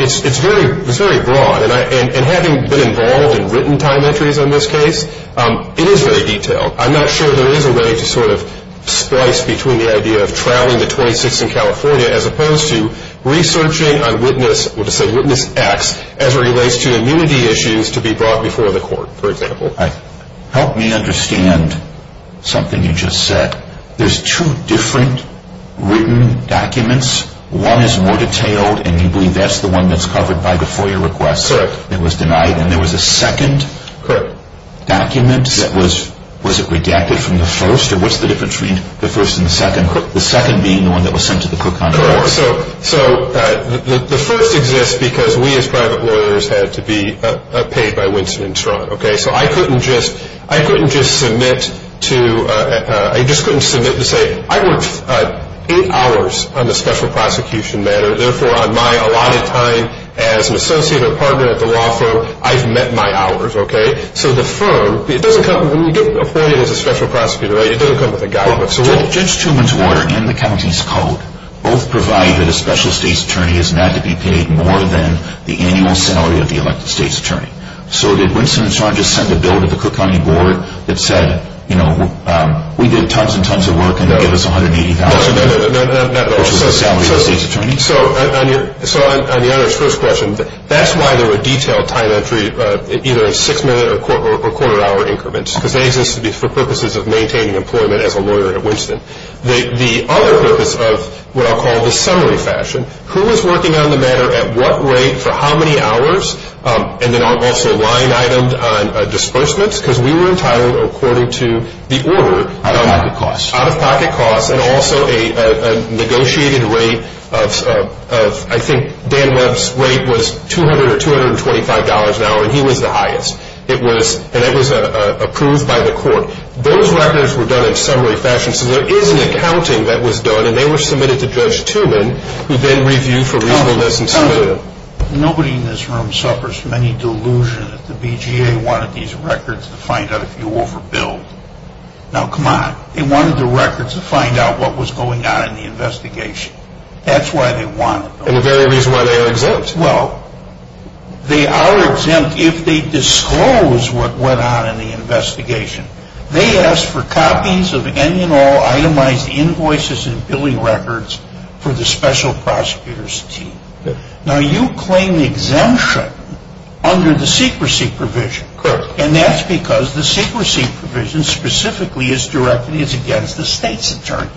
It's very broad. And having been involved in written time entries on this case, it is very detailed. I'm not sure there is a way to sort of splice between the idea of trawling the 26 in California as opposed to researching on witness, or to say witness X, as it relates to immunity issues to be brought before the court, for example. All right. Help me understand something you just said. There's two different written documents. One is more detailed, and you believe that's the one that's covered by the FOIA request that was denied. Correct. And there was a second document that was, was it redacted from the first? Or what's the difference between the first and the second? The second being the one that was sent to the Cook County Board. Correct. So the first exists because we as private lawyers had to be paid by Winston and Strunk, okay? So I couldn't just, I couldn't just submit to, I just couldn't submit to say, I worked eight hours on the special prosecution matter, therefore on my allotted time as an associate or partner at the law firm, I've met my hours, okay? So the firm, it doesn't come, when you get appointed as a special prosecutor, right, it doesn't come with a guidebook. Judge Truman's order and the county's code both provide that a special state's attorney is not to be paid more than the annual salary of the elected state's attorney. So did Winston and Strunk just send a bill to the Cook County Board that said, you know, we did tons and tons of work and they'll give us $180,000? No, no, no, not at all. Which is the salary of the state's attorney? So on your, so on the other's first question, that's why there were detailed time entry either in six-minute or quarter-hour increments, because they exist for purposes of maintaining employment as a lawyer at Winston. The other purpose of what I'll call the summary fashion, who was working on the matter at what rate for how many hours, and then also line itemed on disbursements, because we were entitled according to the order. Out-of-pocket costs. Out-of-pocket costs, and also a negotiated rate of, I think Dan Webb's rate was $200 or $225 an hour, and he was the highest. It was, and it was approved by the court. Those records were done in summary fashion, so there is an accounting that was done, and they were submitted to Judge Tooman, who then reviewed for reasonableness and submitted them. Nobody in this room suffers from any delusion that the BGA wanted these records to find out if you overbilled. Now, come on. They wanted the records to find out what was going on in the investigation. That's why they wanted them. And the very reason why they are exempt. Well, they are exempt if they disclose what went on in the investigation. They asked for copies of any and all itemized invoices and billing records for the special prosecutor's team. Now, you claim exemption under the secrecy provision, and that's because the secrecy provision specifically is directed against the state's attorney.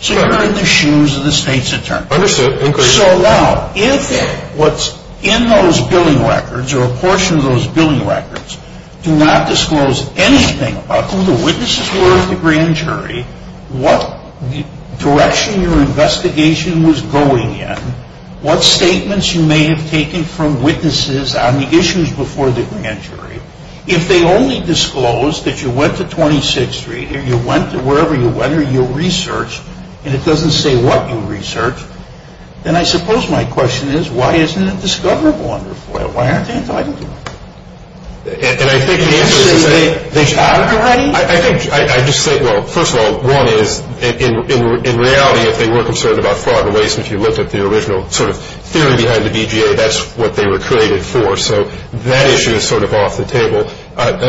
So you're in the shoes of the state's attorney. Understood. So now, if what's in those billing records, or a portion of those billing records, do not disclose anything about who the witnesses were of the grand jury, what direction your investigation was going in, what statements you may have taken from witnesses on the issues before the grand jury, if they only disclose that you went to 26th Street, or you went to wherever you went, and it doesn't say what you researched, then I suppose my question is, why isn't it discoverable under FOIA? Why aren't they entitled to it? And I think the answer is that... They should have it already? I think, I just think, well, first of all, one is, in reality, if they were concerned about fraud and waste, if you looked at the original sort of theory behind the BJA, that's what they were created for. So that issue is sort of off the table.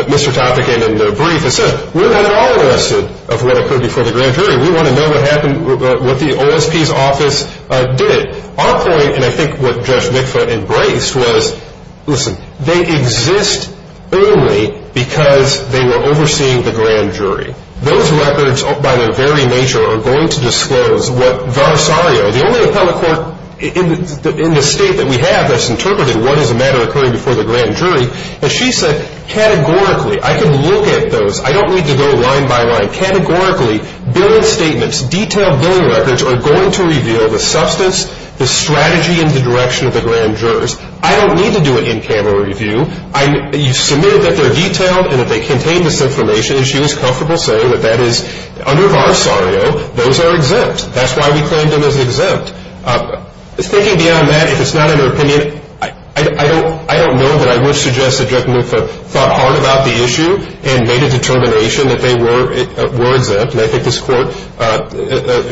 Mr. Topekin, in the brief, has said, we're not at all interested of what occurred before the grand jury. We want to know what happened, what the OSP's office did. Our point, and I think what Judge Mikva embraced, was, listen, they exist only because they were overseeing the grand jury. Those records, by their very nature, are going to disclose what Varsario, the only appellate court in the state that we have that's interpreted what is a matter occurring before the grand jury, as she said, categorically. I can look at those. I don't need to go line by line. Categorically, billed statements, detailed billing records are going to reveal the substance, the strategy, and the direction of the grand jurors. I don't need to do an in-camera review. You submit that they're detailed and that they contain this information, and she was comfortable saying that that is, under Varsario, those are exempt. That's why we claimed them as exempt. Thinking beyond that, if it's not in her opinion, I don't know that I would suggest that Judge Mikva thought hard about the issue and made a determination that they were exempt, and I think this court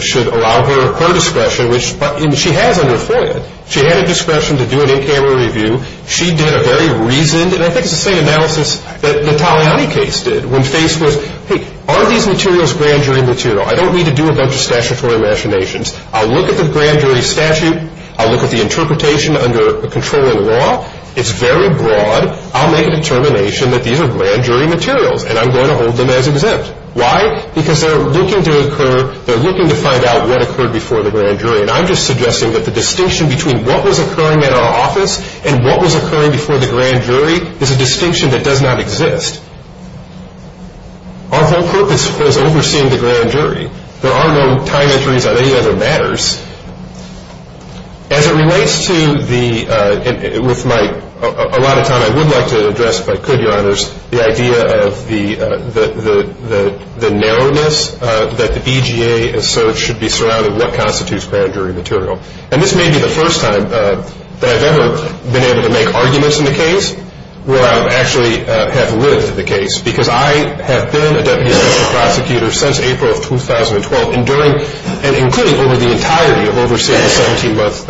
should allow her her discretion, which she has on her forehead. She had a discretion to do an in-camera review. She did a very reasoned, and I think it's the same analysis that the Taliani case did, when FACE was, hey, are these materials grand jury material? I don't need to do a bunch of statutory machinations. I'll look at the grand jury statute. I'll look at the interpretation under controlling law. It's very broad. I'll make a determination that these are grand jury materials, and I'm going to hold them as exempt. Why? Because they're looking to find out what occurred before the grand jury, and I'm just suggesting that the distinction between what was occurring in our office and what was occurring before the grand jury is a distinction that does not exist. Our whole purpose was overseeing the grand jury. There are no time entries on any other matters. As it relates to the – with my – a lot of time I would like to address, if I could, Your Honors, the idea of the narrowness that the BGA asserts should be surrounded with what constitutes grand jury material. And this may be the first time that I've ever been able to make arguments in the case where I actually have lived the case, because I have been a deputy special prosecutor since April of 2012, and during – and including over the entirety of overseeing the 17-month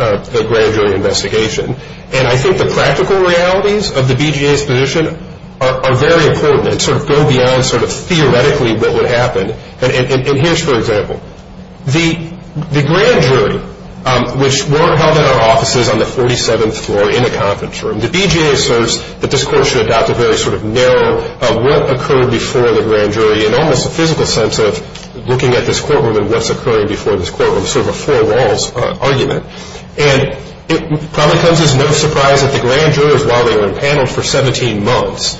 grand jury investigation. And I think the practical realities of the BGA's position are very important and sort of go beyond sort of theoretically what would happen. And here's, for example, the grand jury, which weren't held in our offices on the 47th floor in a conference room, and the BGA asserts that this court should adopt a very sort of narrow, what occurred before the grand jury, and almost a physical sense of looking at this courtroom and what's occurring before this courtroom, sort of a four walls argument. And it probably comes as no surprise that the grand jurors, while they were impaneled for 17 months,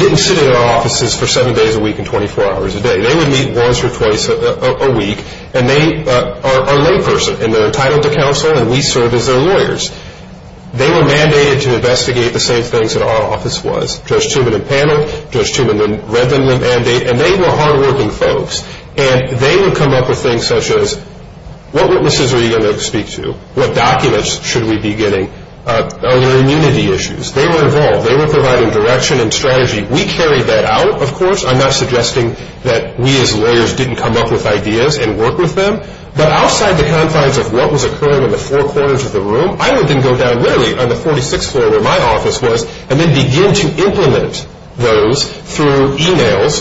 didn't sit in our offices for seven days a week and 24 hours a day. They would meet once or twice a week, and they are a layperson, and they're entitled to counsel, and we serve as their lawyers. They were mandated to investigate the same things that our office was. Judge Tubman impaneled, Judge Tubman read them the mandate, and they were hardworking folks. And they would come up with things such as, what witnesses are you going to speak to, what documents should we be getting, other immunity issues. They were involved. They were providing direction and strategy. We carried that out, of course. I'm not suggesting that we as lawyers didn't come up with ideas and work with them. But outside the confines of what was occurring in the four corners of the room, I would then go down literally on the 46th floor where my office was and then begin to implement those through e-mails.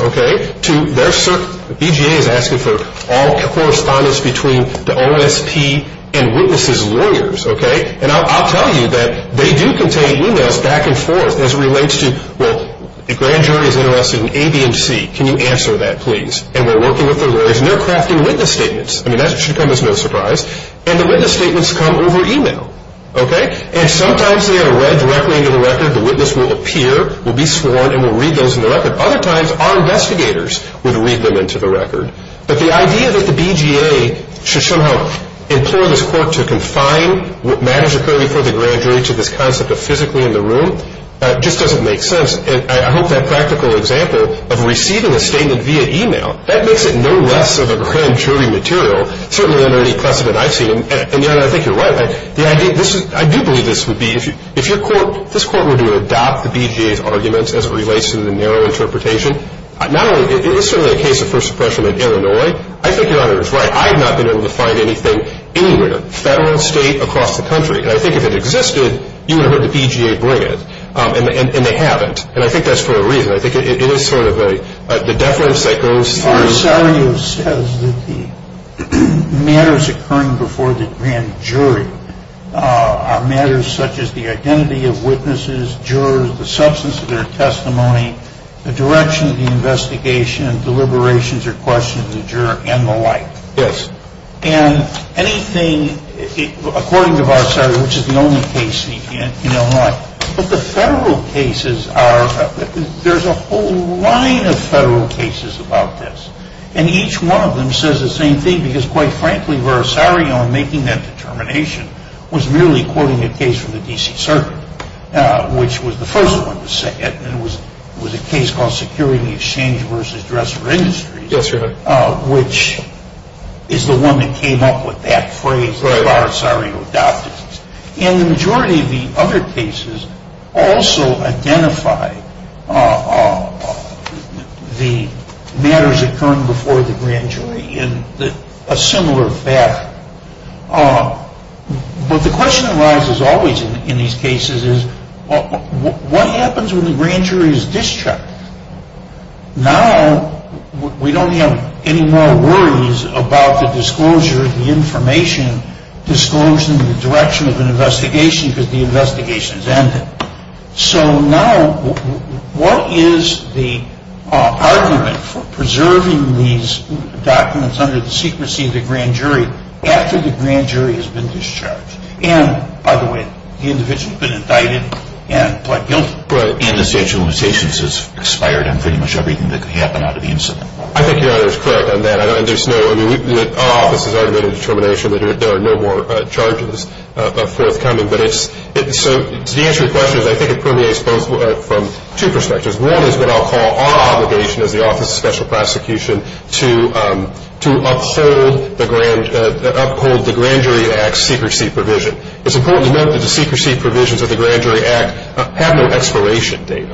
BJA is asking for all correspondence between the OSP and witnesses' lawyers. And I'll tell you that they do contain e-mails back and forth as it relates to, well, the grand jury is interested in A, B, and C. Can you answer that, please? And we're working with their lawyers, and they're crafting witness statements. I mean, that should come as no surprise. And the witness statements come over e-mail. Okay? And sometimes they are read directly into the record. The witness will appear, will be sworn, and will read those into the record. Other times our investigators would read them into the record. But the idea that the BJA should somehow implore this court to confine what matters occurring before the grand jury to this concept of physically in the room just doesn't make sense. And I hope that practical example of receiving a statement via e-mail, that makes it no less of a grand jury material, certainly under any precedent I've seen. And, Your Honor, I think you're right. I do believe this would be, if your court, if this court were to adopt the BJA's arguments as it relates to the narrow interpretation, not only, it is certainly a case of first impression in Illinois. I think Your Honor is right. I have not been able to find anything anywhere, federal, state, across the country. And I think if it existed, you would have heard the BJA bring it. And they haven't. And I think that's for a reason. I think it is sort of a deference that goes through. R.S. Sario says that the matters occurring before the grand jury are matters such as the identity of witnesses, jurors, the substance of their testimony, the direction of the investigation, deliberations or questions of the juror, and the like. Yes. And anything, according to R.S. Sario, which is the only case in Illinois, But the federal cases are, there's a whole line of federal cases about this. And each one of them says the same thing because, quite frankly, R.S. Sario in making that determination was merely quoting a case from the D.C. Circuit, which was the first one to say it. And it was a case called Security Exchange versus Dresser Industries. Yes, Your Honor. Which is the one that came up with that phrase that R.S. Sario adopted. And the majority of the other cases also identify the matters occurring before the grand jury in a similar fashion. But the question that arises always in these cases is, what happens when the grand jury is discharged? Now we don't have any more worries about the disclosure, the information, disclosure in the direction of an investigation because the investigation has ended. So now what is the argument for preserving these documents under the secrecy of the grand jury after the grand jury has been discharged? And, by the way, the individual has been indicted and pled guilty. Right. And the statute of limitations has expired on pretty much everything that could happen out of the incident. I think Your Honor is correct on that. Our office has already made a determination that there are no more charges forthcoming. So to answer your question, I think it permeates from two perspectives. One is what I'll call our obligation as the Office of Special Prosecution to uphold the Grand Jury Act secrecy provision. It's important to note that the secrecy provisions of the Grand Jury Act have no expiration date.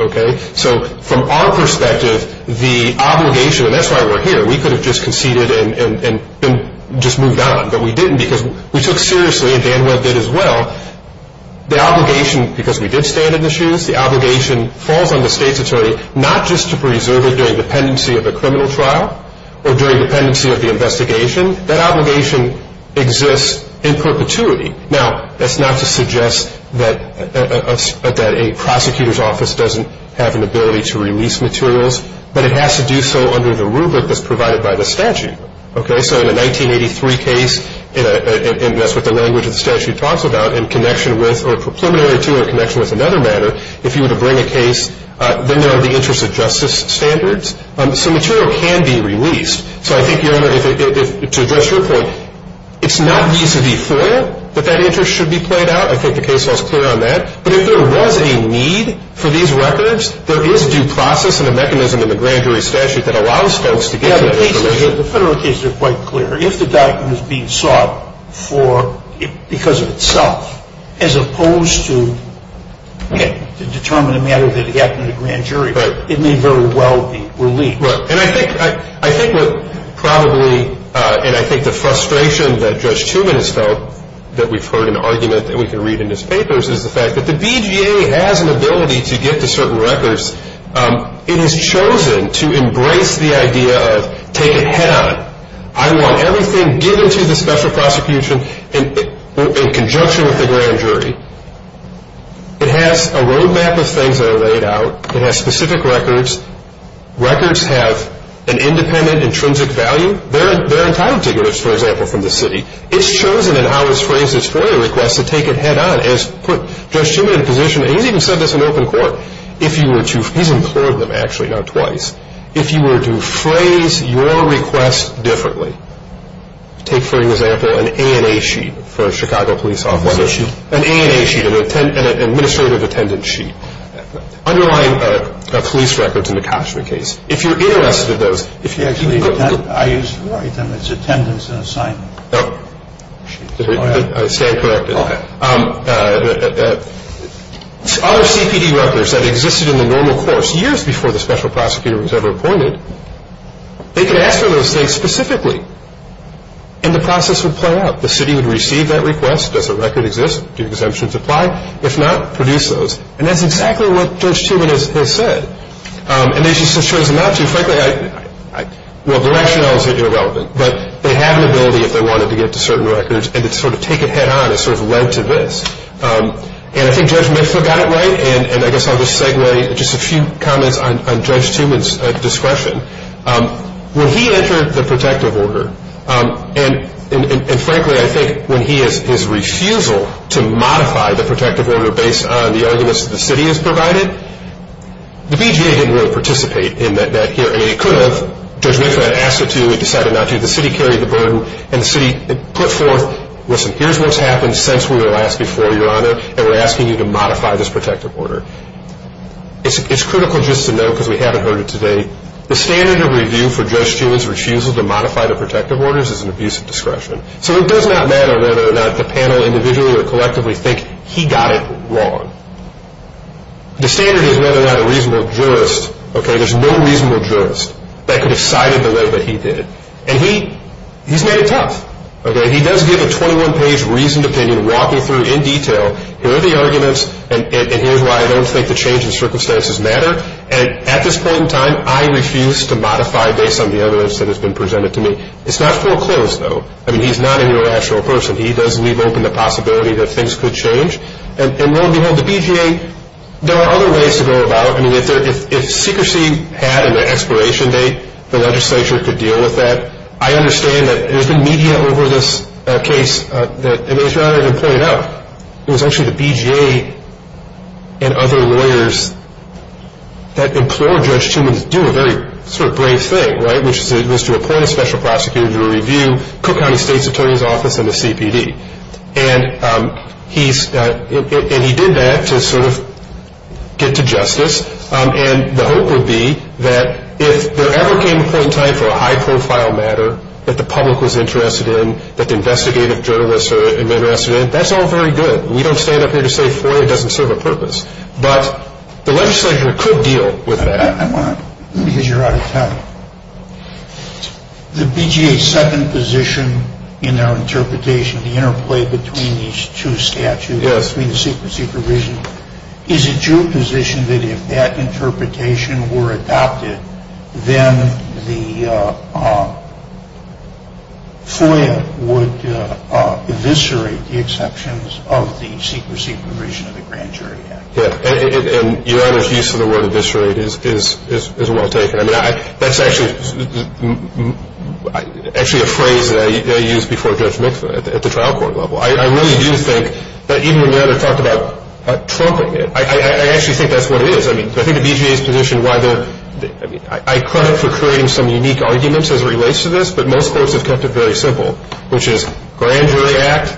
So from our perspective, the obligation, and that's why we're here, we could have just conceded and just moved on, but we didn't because we took seriously, and Danuel did as well, the obligation, because we did stand in the shoes, the obligation falls on the state's attorney not just to preserve it during dependency of a criminal trial or during dependency of the investigation. That obligation exists in perpetuity. Now, that's not to suggest that a prosecutor's office doesn't have an ability to release materials, but it has to do so under the rubric that's provided by the statute. Okay? So in a 1983 case, and that's what the language of the statute talks about, in connection with or preliminary to or in connection with another matter, if you were to bring a case, then there are the interests of justice standards. So material can be released. So I think, Your Honor, to address your point, it's not vis-a-vis FOIA that that interest should be played out. I think the case law is clear on that. But if there was a need for these records, there is due process and a mechanism in the grand jury statute that allows folks to get to that information. Yeah, the federal cases are quite clear. If the document is being sought because of itself, as opposed to determine a matter that happened in the grand jury, it may very well be released. Right. And I think what probably, and I think the frustration that Judge Truman has felt that we've heard an argument that we can read in his papers, is the fact that the BJA has an ability to get to certain records. It has chosen to embrace the idea of take a hit on it. I want everything given to the special prosecution in conjunction with the grand jury. It has a road map of things that are laid out. It has specific records. Records have an independent, intrinsic value. They're entitled to those, for example, from the city. It's chosen in how it's phrased its FOIA requests to take a hit on, as put Judge Truman in a position, and he's even said this in open court, if you were to, he's implored them actually now twice, if you were to phrase your request differently, take for example an ANA sheet for a Chicago police officer. What sheet? An ANA sheet, an administrative attendance sheet. Underlying police records in the Koshner case. If you're interested in those. If you actually intend, I used to write them, it's attendance and assignment. I stand corrected. Other CPD records that existed in the normal course, years before the special prosecutor was ever appointed, they could ask for those things specifically, and the process would play out. The city would receive that request. Does the record exist? Do exemptions apply? If not, produce those. And that's exactly what Judge Truman has said. And this just shows them how to, frankly, well, directionality is irrelevant, but they had an ability if they wanted to get to certain records, and to sort of take a hit on has sort of led to this. And I think Judge Mitchell got it right, and I guess I'll just segue just a few comments on Judge Truman's discretion. When he entered the protective order, and frankly I think when his refusal to modify the protective order based on the arguments that the city has provided, the BJA didn't really participate in that hearing. It could have. Judge Mitchell had asked it to. He decided not to. The city carried the burden, and the city put forth, listen, here's what's happened since we were last before your honor, and we're asking you to modify this protective order. It's critical just to know, because we haven't heard it today, the standard of review for Judge Truman's refusal to modify the protective orders is an abuse of discretion. So it does not matter whether or not the panel individually or collectively think he got it wrong. The standard is whether or not a reasonable jurist, okay, there's no reasonable jurist that could have cited the way that he did it. And he's made it tough, okay. He does give a 21-page reasoned opinion walking through in detail, here are the arguments, and here's why I don't think the changes in circumstances matter. And at this point in time, I refuse to modify based on the evidence that has been presented to me. It's not foreclosed, though. I mean, he's not an irrational person. He does leave open the possibility that things could change. And lo and behold, the BJA, there are other ways to go about it. I mean, if secrecy had an expiration date, the legislature could deal with that. I understand that there's been media over this case that, as your honor has pointed out, it was actually the BJA and other lawyers that implored Judge Truman to do a very sort of brave thing, right, which was to appoint a special prosecutor to review Cook County State's Attorney's Office and the CPD. And he did that to sort of get to justice. And the hope would be that if there ever came a point in time for a high-profile matter that the public was interested in, that the investigative journalists are interested in, that's all very good. We don't stand up here to say FOIA doesn't serve a purpose. But the legislature could deal with that. I want to, because you're out of time, the BJA's second position in their interpretation, the interplay between these two statutes, between the secrecy provision, is it your position that if that interpretation were adopted, then the FOIA would eviscerate the exceptions of the secrecy provision of the Grand Jury Act? Yeah, and your honor's use of the word eviscerate is well taken. I mean, that's actually a phrase that I used before Judge Mixon at the trial court level. I really do think that even when your honor talked about trumping it, I actually think that's what it is. I mean, I think the BJA's position, I credit it for creating some unique arguments as it relates to this, but most folks have kept it very simple, which is Grand Jury Act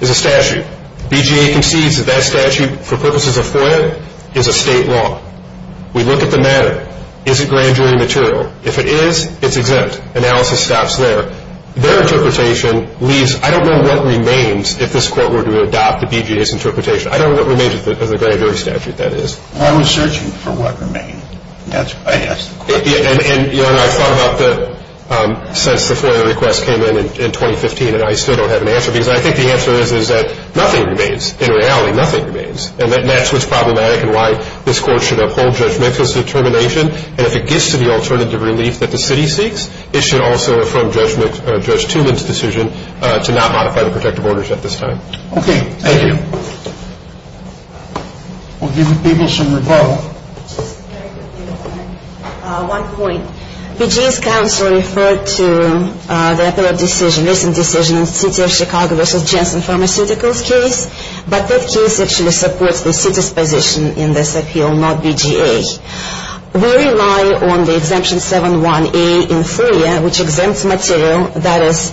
is a statute. BJA concedes that that statute, for purposes of FOIA, is a state law. We look at the matter. Is it Grand Jury material? If it is, it's exempt. Analysis stops there. Their interpretation leaves, I don't know what remains if this court were to adopt the BJA's interpretation. I don't know what remains of the Grand Jury statute, that is. I was searching for what remained. And your honor, I thought about that since the FOIA request came in in 2015, and I still don't have an answer because I think the answer is that nothing remains. In reality, nothing remains. And that's what's problematic and why this court should uphold Judge Mixon's determination. And if it gets to the alternative relief that the city seeks, it should also affirm Judge Toomin's decision to not modify the protective orders at this time. Okay. Thank you. We'll give the people some rebuttal. One point. BJA's counsel referred to the appellate decision, recent decision, in the City of Chicago v. Jensen Pharmaceuticals case, but that case actually supports the city's position in this appeal, not BJA's. We rely on the Exemption 7-1A in FOIA, which exempts material that is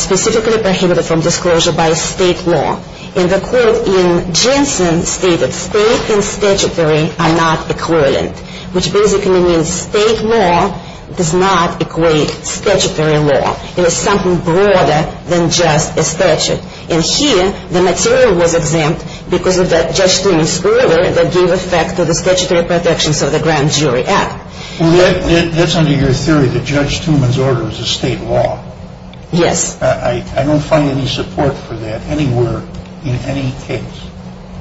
specifically prohibited from disclosure by state law. And the court in Jensen stated, state and statutory are not equivalent, which basically means state law does not equate statutory law. It is something broader than just a statute. And here, the material was exempt because of Judge Toomin's order that gave effect to the statutory protections of the grand jury app. Well, that's under your theory that Judge Toomin's order was a state law. Yes. I don't find any support for that anywhere in any case.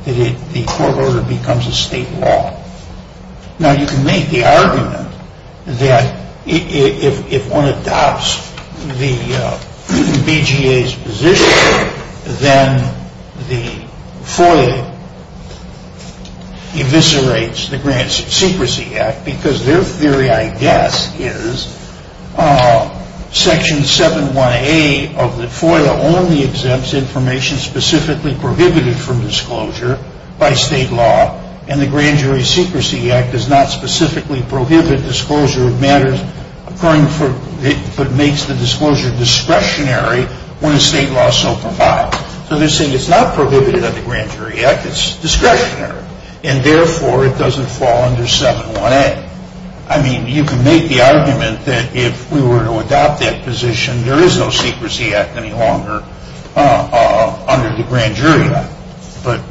The court order becomes a state law. Now, you can make the argument that if one adopts the BJA's position, then the FOIA eviscerates the Grand Secrecy Act because their theory, I guess, is Section 7-1A of the FOIA only exempts information specifically prohibited from disclosure by state law, and the Grand Jury Secrecy Act does not specifically prohibit disclosure of matters occurring that makes the disclosure discretionary when a state law so provides. So they're saying it's not prohibited under the Grand Jury Act. It's discretionary. And therefore, it doesn't fall under 7-1A. I mean, you can make the argument that if we were to adopt that position, there is no secrecy act any longer under the Grand Jury Act. But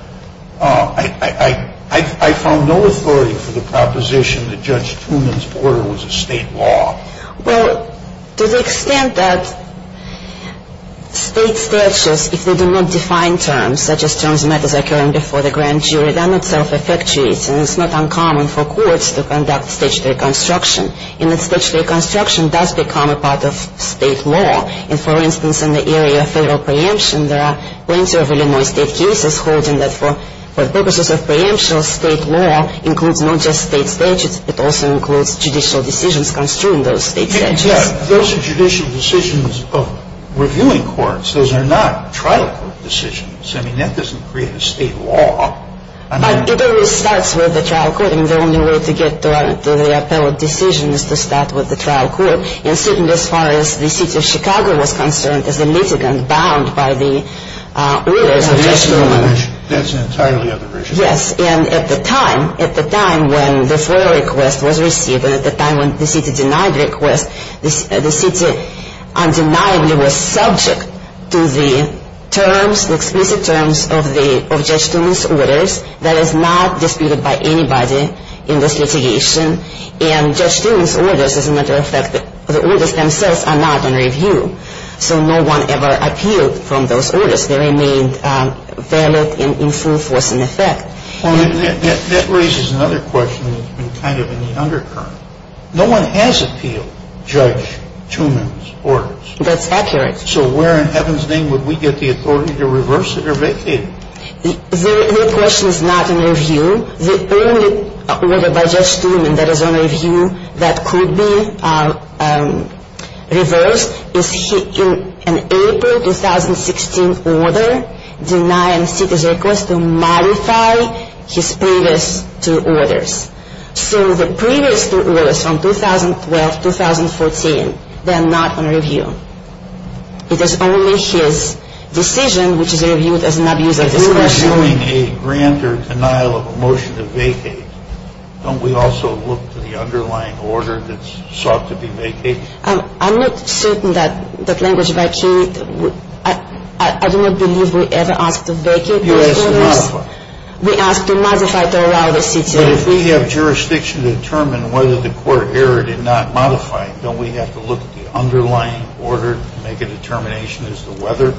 I found no authority for the proposition that Judge Toomin's order was a state law. Well, to the extent that state statutes, if they do not define terms, such as terms and matters occurring before the grand jury, then it self-effectuates and it's not uncommon for courts to conduct statutory construction. And that statutory construction does become a part of state law. And, for instance, in the area of federal preemption, there are plenty of Illinois state cases holding that for purposes of preemption, state law includes not just state statutes, it also includes judicial decisions construed in those state statutes. Yeah. Those are judicial decisions of reviewing courts. Those are not trial court decisions. I mean, that doesn't create a state law. But it only starts with the trial court. I mean, the only way to get to the appellate decision is to start with the trial court. And certainly as far as the city of Chicago was concerned, as a litigant bound by the orders of Judge Toomin. That's an entirely other issue. Yes. And at the time, at the time when the FOIA request was received and at the time when the city denied the request, the city undeniably was subject to the terms, the explicit terms of Judge Toomin's orders. That is not disputed by anybody in this litigation. And Judge Toomin's orders, as a matter of fact, the orders themselves are not under review. So no one ever appealed from those orders. They remained valid in full force and effect. That raises another question that's been kind of in the undercurrent. No one has appealed Judge Toomin's orders. That's accurate. So where in heaven's name would we get the authority to reverse it or vacate it? The question is not under review. The only order by Judge Toomin that is under review that could be reversed is an April 2016 order denying city's request to modify his previous two orders. So the previous two orders from 2012-2014, they're not under review. It is only his decision which is reviewed as an abuse of discretion. If we were doing a grander denial of a motion to vacate, don't we also look to the underlying order that's sought to be vacated? I'm not certain that language vacated. I do not believe we ever asked to vacate those orders. You asked to modify. We asked to modify to allow the city. But if we have jurisdiction to determine whether the court erred in not modifying, don't we have to look at the underlying order to make a determination as to whether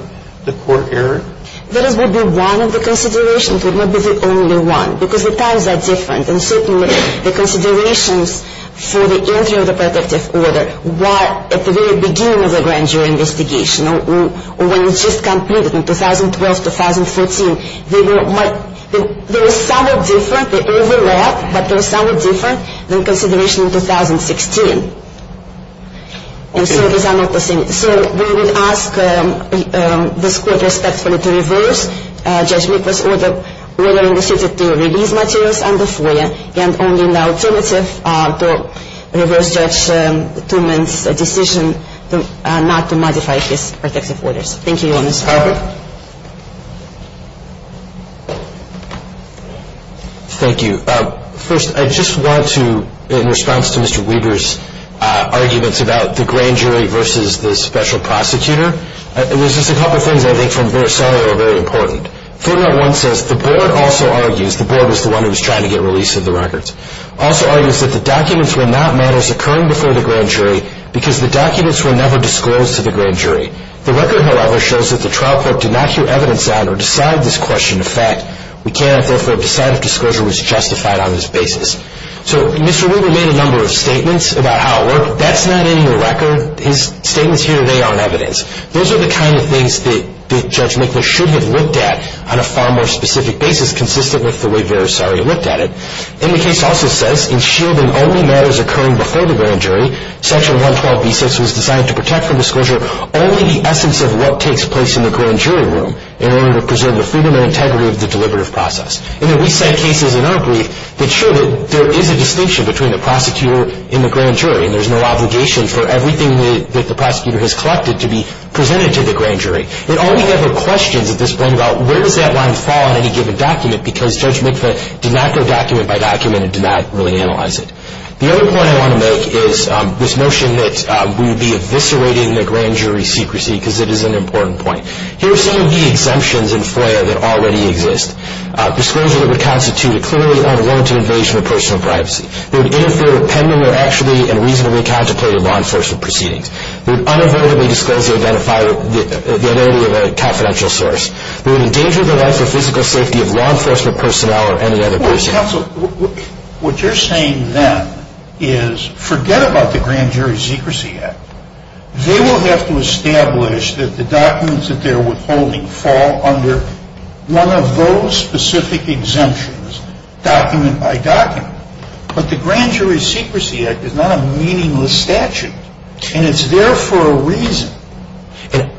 the court erred? That would be one of the considerations. It would not be the only one because the times are different, and certainly the considerations for the injury of the protective order were at the very beginning of the grand jury investigation or when it was just completed in 2012-2014. They were somewhat different. They overlapped, but they were somewhat different than consideration in 2016. And so these are not the same. So we would ask this court respectfully to reverse Judge Miklos' order in the city to release materials under FOIA, and only in the alternative to reverse Judge Tumen's decision not to modify his protective orders. Thank you, Your Honor. Next topic. Thank you. First, I just want to, in response to Mr. Weaver's arguments about the grand jury versus the special prosecutor, there's just a couple of things I think from their side that are very important. Third one says the board also argues, the board was the one who was trying to get release of the records, also argues that the documents were not matters occurring before the grand jury because the documents were never disclosed to the grand jury. The record, however, shows that the trial court did not hear evidence on or decide this question. In fact, we cannot therefore decide if disclosure was justified on this basis. So Mr. Weaver made a number of statements about how it worked. That's not in the record. His statements here today aren't evidence. Those are the kind of things that Judge Miklos should have looked at on a far more specific basis, consistent with the way Verisari looked at it. And the case also says in shielding only matters occurring before the grand jury, Section 112B6 was designed to protect from disclosure only the essence of what takes place in the grand jury room in order to preserve the freedom and integrity of the deliberative process. And then we cite cases in our brief that show that there is a distinction between the prosecutor and the grand jury, and there's no obligation for everything that the prosecutor has collected to be presented to the grand jury. It only ever questions at this point about where does that line fall on any given document because Judge Miklos did not go document by document and did not really analyze it. The other point I want to make is this notion that we would be eviscerating the grand jury secrecy because it is an important point. Here are some of the exemptions in FOIA that already exist. Disclosure that would constitute a clearly unwarranted invasion of personal privacy. They would interfere with pending or actually and reasonably contemplated law enforcement proceedings. They would unavoidably disclose or identify the identity of a confidential source. They would endanger the life or physical safety of law enforcement personnel or any other person. Counsel, what you're saying then is forget about the Grand Jury Secrecy Act. They will have to establish that the documents that they're withholding fall under one of those specific exemptions, document by document. But the Grand Jury Secrecy Act is not a meaningless statute, and it's there for a reason.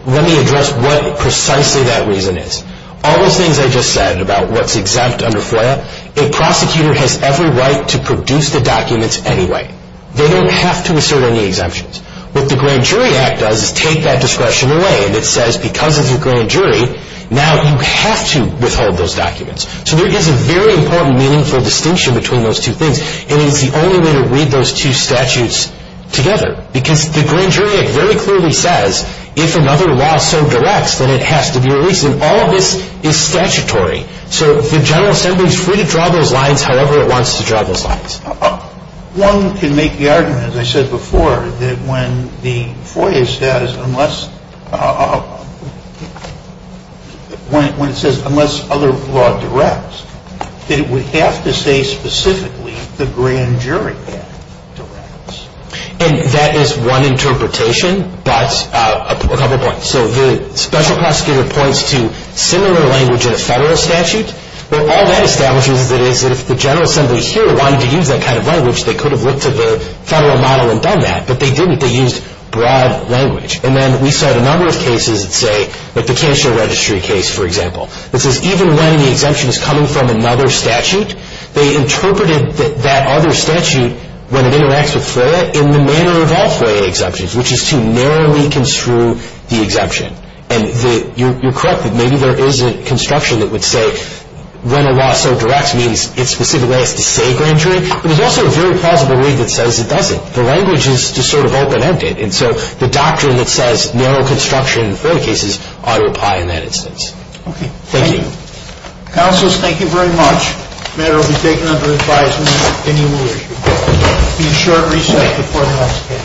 Let me address what precisely that reason is. All those things I just said about what's exempt under FOIA, a prosecutor has every right to produce the documents anyway. They don't have to assert any exemptions. What the Grand Jury Act does is take that discretion away, and it says because it's a grand jury, now you have to withhold those documents. So there is a very important meaningful distinction between those two things, and it's the only way to read those two statutes together. Because the Grand Jury Act very clearly says, if another law so directs, then it has to be released. And all of this is statutory. So the General Assembly is free to draw those lines however it wants to draw those lines. One can make the argument, as I said before, that when the FOIA status, when it says unless other law directs, that it would have to say specifically the Grand Jury Act directs. And that is one interpretation, but a couple points. So the special prosecutor points to similar language in a federal statute. Well, all that establishes is that if the General Assembly here wanted to use that kind of language, they could have looked at the federal model and done that. But they didn't. They used broad language. And then we saw a number of cases that say, like the cashier registry case, for example, that says even when the exemption is coming from another statute, they interpreted that that other statute, when it interacts with FOIA, in the manner of all FOIA exemptions, which is to narrowly construe the exemption. And you're correct that maybe there is a construction that would say when a law so directs means it specifically has to say Grand Jury. But there's also a very plausible way that says it doesn't. The language is to sort of open end it. And so the doctrine that says narrow construction in FOIA cases ought to apply in that instance. Thank you. Thank you. Counselors, thank you very much. The matter will be taken under advisement. And you will be in short recess before the next hearing.